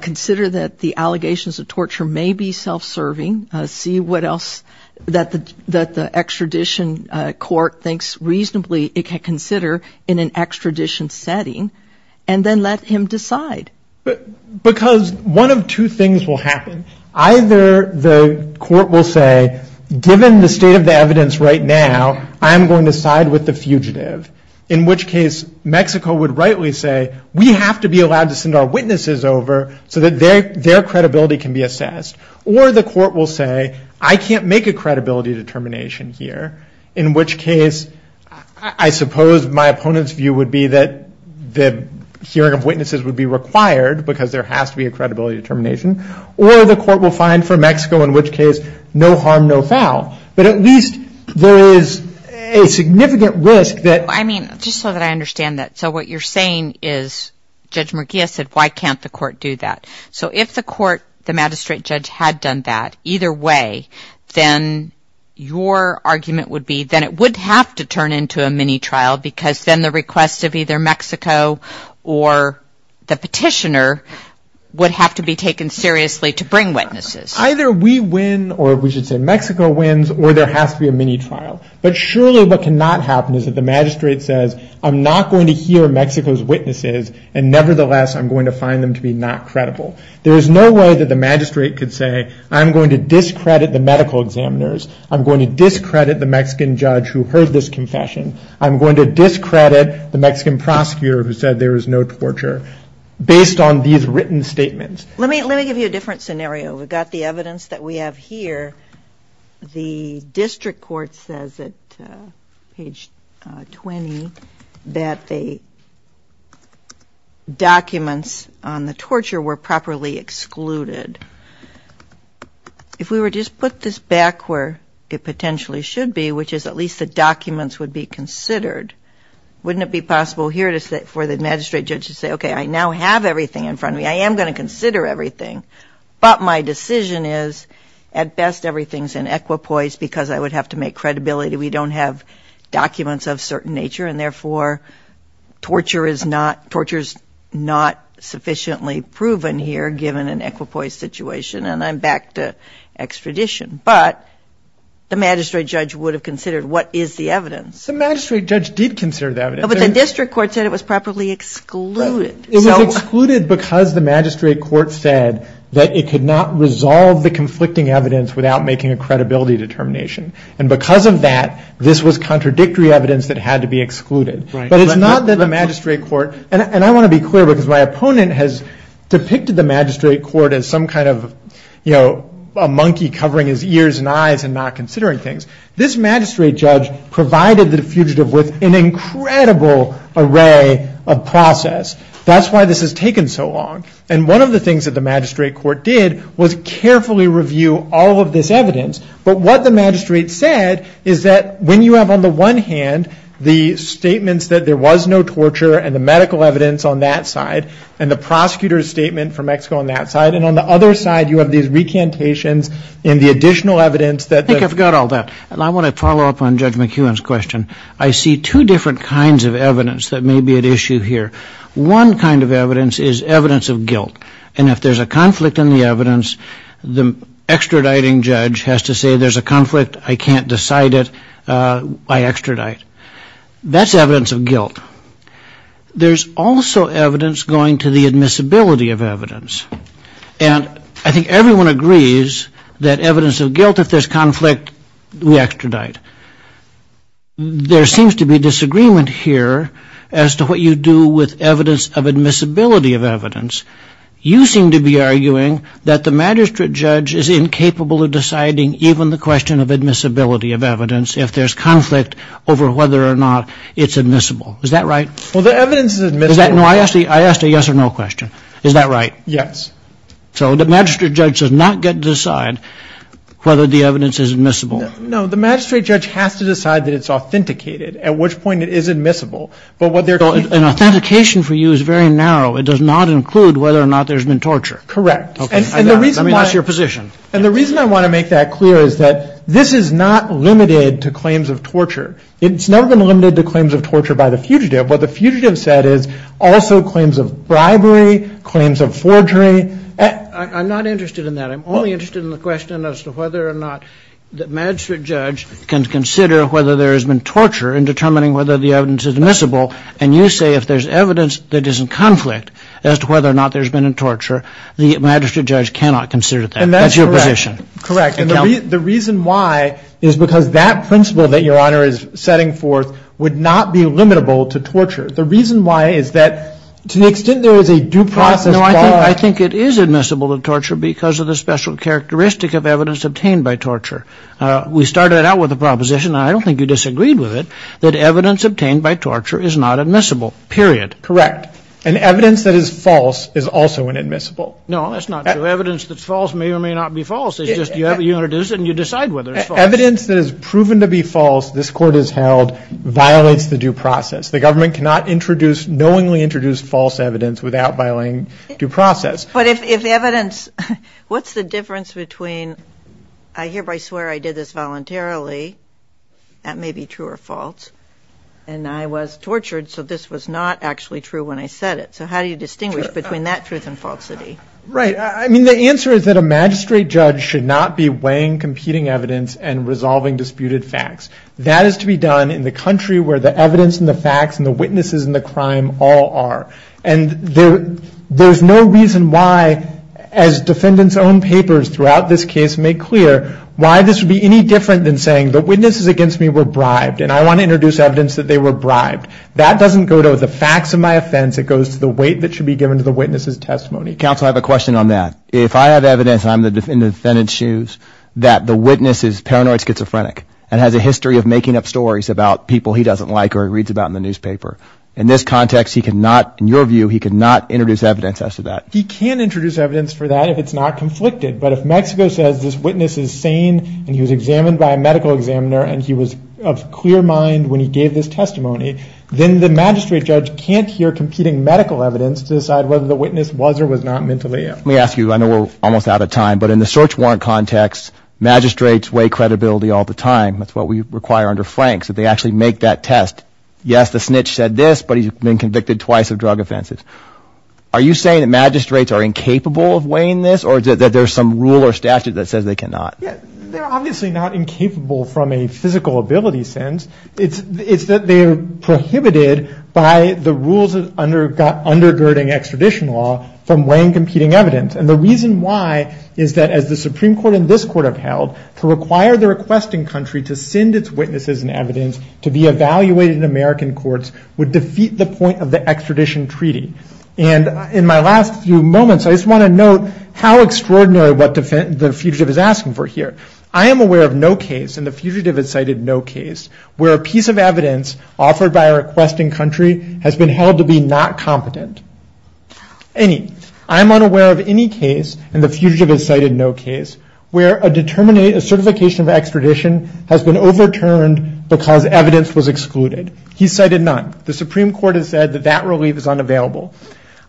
Consider that the allegations of torture may be self-serving. See what else that the extradition court thinks reasonably it can consider in an extradition setting. And then let him decide. Because one of two things will happen. Either the court will say, given the state of the evidence right now, I'm going to side with the fugitive. In which case, Mexico would rightly say, we have to be allowed to send our witnesses over so that their credibility can be assessed. Or the court will say, I can't make a credibility determination here. In which case, I suppose my opponent's view would be that the hearing of witnesses would be required, because there has to be a credibility determination. Or the court will find for Mexico, in which case, no harm, no foul. But at least there is a significant risk that. I mean, just so that I understand that. So what you're saying is, Judge Murguia said, why can't the court do that? So if the court, the magistrate judge, had done that, either way, then your argument would be that it would have to turn into a mini-trial. Because then the request of either Mexico or the petitioner would have to be taken seriously to bring witnesses. Either we win, or we should say Mexico wins, or there has to be a mini-trial. But surely what cannot happen is that the magistrate says, I'm not going to hear Mexico's witnesses. And nevertheless, I'm going to find them to be not credible. There is no way that the magistrate could say, I'm going to discredit the medical examiners. I'm going to discredit the Mexican judge who heard this confession. I'm going to discredit the Mexican prosecutor who said there was no torture. Based on these written statements. Let me give you a different scenario. We've got the evidence that we have here. The district court says at page 20 that the documents on the torture were properly excluded. If we were to just put this back where it potentially should be, which is at least the documents would be considered. Wouldn't it be possible here for the magistrate judge to say, okay, I now have everything in front of me. I am going to consider everything. But my decision is, at best everything is in equipoise because I would have to make credibility. We don't have documents of certain nature. And therefore, torture is not sufficiently proven here given an equipoise situation. And I'm back to extradition. But the magistrate judge would have considered what is the evidence. The magistrate judge did consider the evidence. But the district court said it was properly excluded. It was excluded because the magistrate court said that it could not resolve the conflicting evidence without making a credibility determination. And because of that, this was contradictory evidence that had to be excluded. But it's not that the magistrate court, and I want to be clear because my opponent has depicted the magistrate court as some kind of, you know, a monkey covering his ears and eyes and not considering things. This magistrate judge provided the fugitive with an incredible array of process. That's why this has taken so long. And one of the things that the magistrate court did was carefully review all of this evidence. But what the magistrate said is that when you have on the one hand the statements that there was no torture and the medical evidence on that side and the prosecutor's statement from Mexico on that side. And on the other side, you have these recantations and the additional evidence that. I think I forgot all that. And I want to follow up on Judge McEwen's question. I see two different kinds of evidence that may be at issue here. One kind of evidence is evidence of guilt. And if there's a conflict in the evidence, the extraditing judge has to say there's a conflict, I can't decide it, I extradite. That's evidence of guilt. There's also evidence going to the admissibility of evidence. And I think everyone agrees that evidence of guilt, if there's conflict, we extradite. There seems to be disagreement here as to what you do with evidence of admissibility of evidence. You seem to be arguing that the magistrate judge is incapable of deciding even the question of admissibility of evidence if there's conflict over whether or not it's admissible. Is that right? Well, the evidence is admissible. No, I asked a yes or no question. Is that right? Yes. So the magistrate judge does not get to decide whether the evidence is admissible. No, the magistrate judge has to decide that it's authenticated, at which point it is admissible. But what they're going to. An authentication for you is very narrow. It does not include whether or not there's been torture. Correct. And the reason. I mean, that's your position. And the reason I want to make that clear is that this is not limited to claims of torture. It's never been limited to claims of torture by the fugitive. What the fugitive said is also claims of bribery, claims of forgery. I'm not interested in that. I'm only interested in the question as to whether or not the magistrate judge can consider whether there has been torture in determining whether the evidence is admissible. And you say if there's evidence that isn't conflict as to whether or not there's been a torture, the magistrate judge cannot consider that. And that's your position. Correct. The reason why is because that principle that your honor is setting forth would not be limitable to torture. The reason why is that to the extent there is a due process. No, I think I think it is admissible to torture because of the special characteristic of evidence obtained by torture. We started out with a proposition. I don't think you disagreed with it, that evidence obtained by torture is not admissible. Period. Correct. And evidence that is false is also inadmissible. No, that's not true. Evidence that's false may or may not be false. You have a unit and you decide whether it's evidence that is proven to be false. This court is held violates the due process. The government cannot introduce knowingly introduced false evidence without violating due process. But if evidence what's the difference between I hereby swear I did this voluntarily. That may be true or false, and I was tortured, so this was not actually true when I said it. So how do you distinguish between that truth and falsity? Right. I mean, the answer is that a magistrate judge should not be weighing competing evidence and resolving disputed facts. That is to be done in the country where the evidence and the facts and the witnesses in the crime all are. And there's no reason why, as defendants' own papers throughout this case make clear, why this would be any different than saying the witnesses against me were bribed and I want to introduce evidence that they were bribed. That doesn't go to the facts of my offense. Counsel, I have a question on that. If I have evidence, I'm in the defendant's shoes, that the witness is paranoid schizophrenic and has a history of making up stories about people he doesn't like or reads about in the newspaper. In this context, he could not, in your view, he could not introduce evidence as to that. He can introduce evidence for that if it's not conflicted. But if Mexico says this witness is sane and he was examined by a medical examiner and he was of clear mind when he gave this testimony, then the magistrate judge can't hear competing medical evidence to decide whether the witness was or was not mentally ill. Let me ask you, I know we're almost out of time, but in the search warrant context, magistrates weigh credibility all the time. That's what we require under Franks, that they actually make that test. Yes, the snitch said this, but he's been convicted twice of drug offenses. Are you saying that magistrates are incapable of weighing this or that there's some rule or statute that says they cannot? They're obviously not incapable from a physical ability sense. It's that they are prohibited by the rules of undergirding extradition law from weighing competing evidence. And the reason why is that as the Supreme Court and this court have held, to require the requesting country to send its witnesses and evidence to be evaluated in American courts would defeat the point of the extradition treaty. And in my last few moments, I just want to note how extraordinary what the fugitive is asking for here. I am aware of no case, and the fugitive has cited no case, where a piece of evidence offered by a requesting country has been held to be not competent. Any, I'm unaware of any case, and the fugitive has cited no case, where a certification of extradition has been overturned because evidence was excluded. He's cited none. The Supreme Court has said that that relief is unavailable.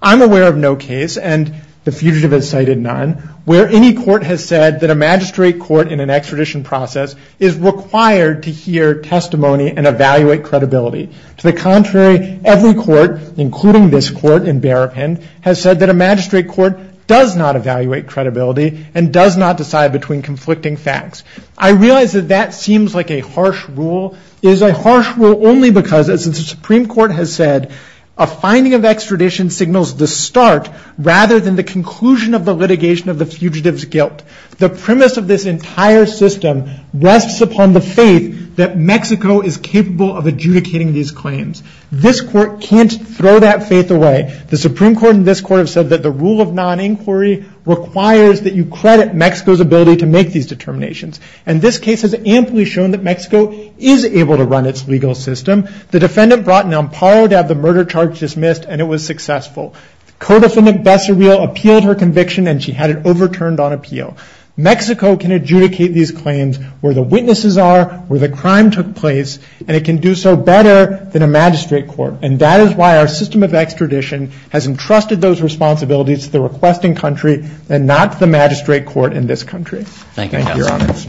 I'm aware of no case, and the fugitive has cited none, where any court has said that a magistrate court in an extradition process is required to hear testimony and evaluate credibility. To the contrary, every court, including this court in Barapin, has said that a magistrate court does not evaluate credibility and does not decide between conflicting facts. I realize that that seems like a harsh rule. It is a harsh rule only because, as the Supreme Court has said, a finding of extradition signals the start, rather than the conclusion of the litigation of the fugitive's guilt. The premise of this entire system rests upon the faith that Mexico is capable of adjudicating these claims. This court can't throw that faith away. The Supreme Court and this court have said that the rule of non-inquiry requires that you credit Mexico's ability to make these determinations, and this case has amply shown that Mexico is able to run its legal system. The defendant brought an amparo to have the murder charge dismissed, and it was successful. Co-defendant Becerril appealed her conviction, and she had it overturned on appeal. Mexico can adjudicate these claims where the witnesses are, where the crime took place, and it can do so better than a magistrate court, and that is why our system of extradition has entrusted those responsibilities to the requesting country and not the magistrate court in this country. Thank you, Your Honors.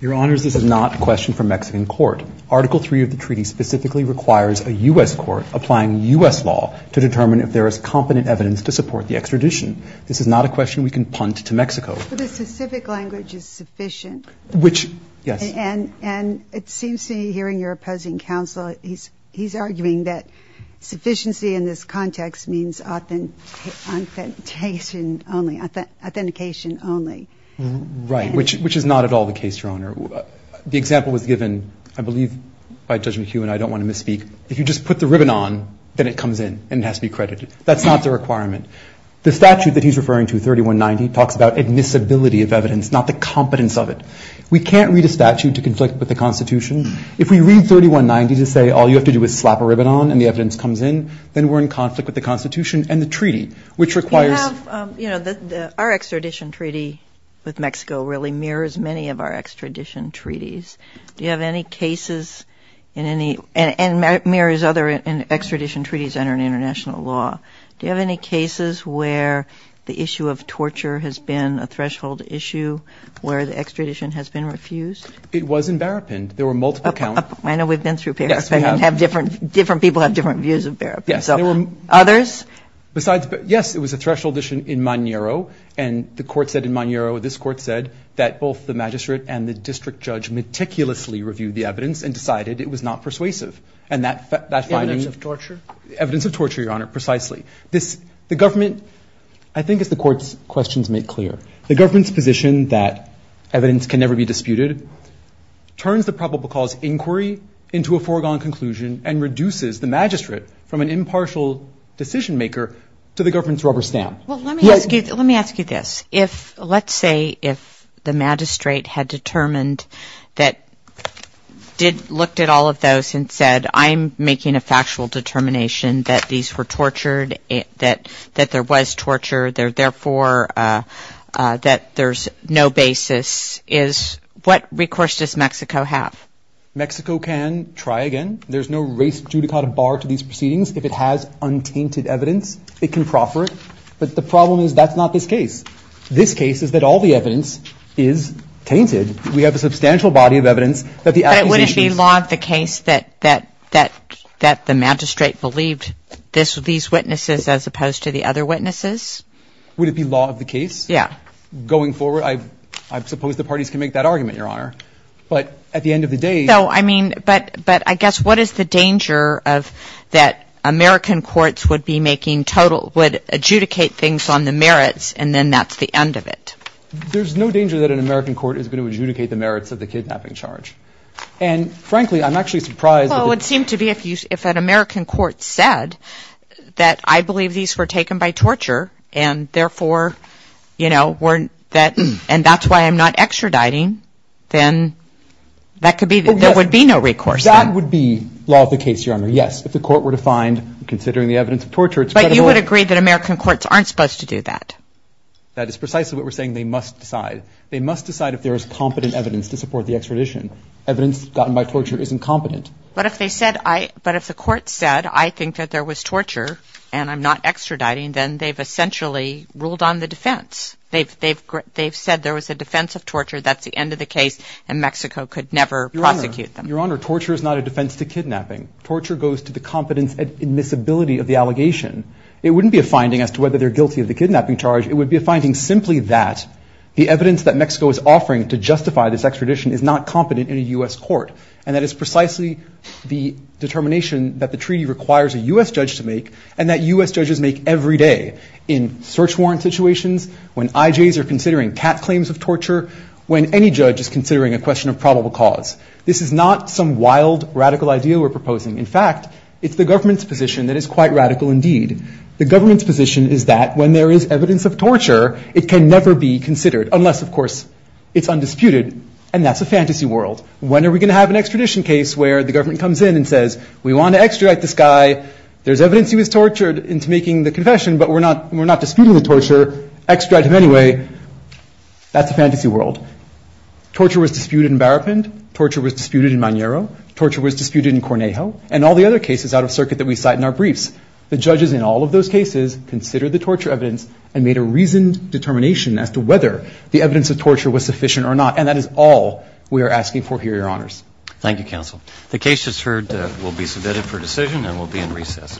Your Honors, this is not a question for Mexican court. Article III of the treaty specifically requires a U.S. court applying U.S. law to determine if there is competent evidence to support the extradition. This is not a question we can punt to Mexico. But the specific language is sufficient. Which, yes. And it seems to me, hearing your opposing counsel, he's arguing that sufficiency in this context means authentication only. Authentication only. Right, which is not at all the case, Your Honor. The example was given, I believe, by Judge McHugh, and I don't want to misspeak. If you just put the ribbon on, then it comes in and it has to be credited. That's not the requirement. The statute that he's referring to, 3190, talks about admissibility of evidence, not the competence of it. We can't read a statute to conflict with the Constitution. If we read 3190 to say, all you have to do is slap a ribbon on and the evidence comes in, then we're in conflict with the Constitution and the treaty, which requires... You know, our extradition treaty with Mexico really mirrors many of our extradition treaties. Do you have any cases in any... And it mirrors other extradition treaties under international law. Do you have any cases where the issue of torture has been a threshold issue, where the extradition has been refused? It was in Barrapin. There were multiple count... I know we've been through Barrapin. Yes, we have. And different people have different views of Barrapin. Yes, there were... Others? Besides... Yes, it was a threshold issue in Mañero. And the court said in Mañero, this court said that both the magistrate and the district judge meticulously reviewed the evidence and decided it was not persuasive. And that finding... Evidence of torture? Evidence of torture, Your Honor, precisely. This... The government... I think as the court's questions make clear, the government's position that evidence can never be disputed turns the probable cause inquiry into a foregone conclusion and reduces the magistrate from an impartial decision-maker to the government's rubber stamp. Well, let me ask you... Let me ask you this. If... Let's say if the magistrate had determined that... Did... Looked at all of those and said, I'm making a factual determination that these were tortured, that there was torture, therefore, that there's no basis. Is... What recourse does Mexico have? Mexico can try again. There's no race judicata bar to these proceedings. If it has untainted evidence, it can proffer it. But the problem is that's not this case. This case is that all the evidence is tainted. We have a substantial body of evidence that the accusation... But wouldn't it be law of the case that the magistrate believed these witnesses as opposed to the other witnesses? Would it be law of the case? Yeah. Going forward, I suppose the parties can make that argument, Your Honor. But at the end of the day... But I guess what is the danger of that American courts would be making total... Would adjudicate things on the merits and then that's the end of it? There's no danger that an American court is going to adjudicate the merits of the kidnapping charge. And frankly, I'm actually surprised... Well, it seemed to be if an American court said that I believe these were taken by torture and therefore, you know, weren't that... And that's why I'm not extraditing, then that could be... There would be no recourse then. That would be law of the case, Your Honor. Yes, if the court were to find considering the evidence of torture... But you would agree that American courts aren't supposed to do that. That is precisely what we're saying. They must decide. They must decide if there is competent evidence to support the extradition. Evidence gotten by torture is incompetent. But if they said I... But if the court said, I think that there was torture and I'm not extraditing, then they've essentially ruled on the defense. They've said there was a defense of torture. That's the end of the case. And Mexico could never prosecute them. Your Honor, torture is not a defense to kidnapping. Torture goes to the competence and admissibility of the allegation. It wouldn't be a finding as to whether they're guilty of the kidnapping charge. It would be a finding simply that the evidence that Mexico is offering to justify this extradition is not competent in a U.S. court. And that is precisely the determination that the treaty requires a U.S. judge to make and that U.S. judges make every day in search warrant situations, when IJs are considering cat claims of torture, when any judge is considering a question of probable cause. This is not some wild, radical idea we're proposing. In fact, it's the government's position that is quite radical indeed. The government's position is that when there is evidence of torture, it can never be considered unless, of course, it's undisputed. And that's a fantasy world. When are we going to have an extradition case where the government comes in and says, we want to extradite this guy. There's evidence he was tortured into making the confession, but we're not disputing the torture. Extradite him anyway. That's a fantasy world. Torture was disputed in Barrapin. Torture was disputed in Manero. Torture was disputed in Cornejo. And all the other cases out of circuit that we cite in our briefs, the judges in all of those cases considered the torture evidence and made a reasoned determination as to whether the evidence of torture was sufficient or not. And that is all we are asking for here, Your Honors. Thank you, counsel. The case is heard. We'll be submitted for decision, and we'll be in recess.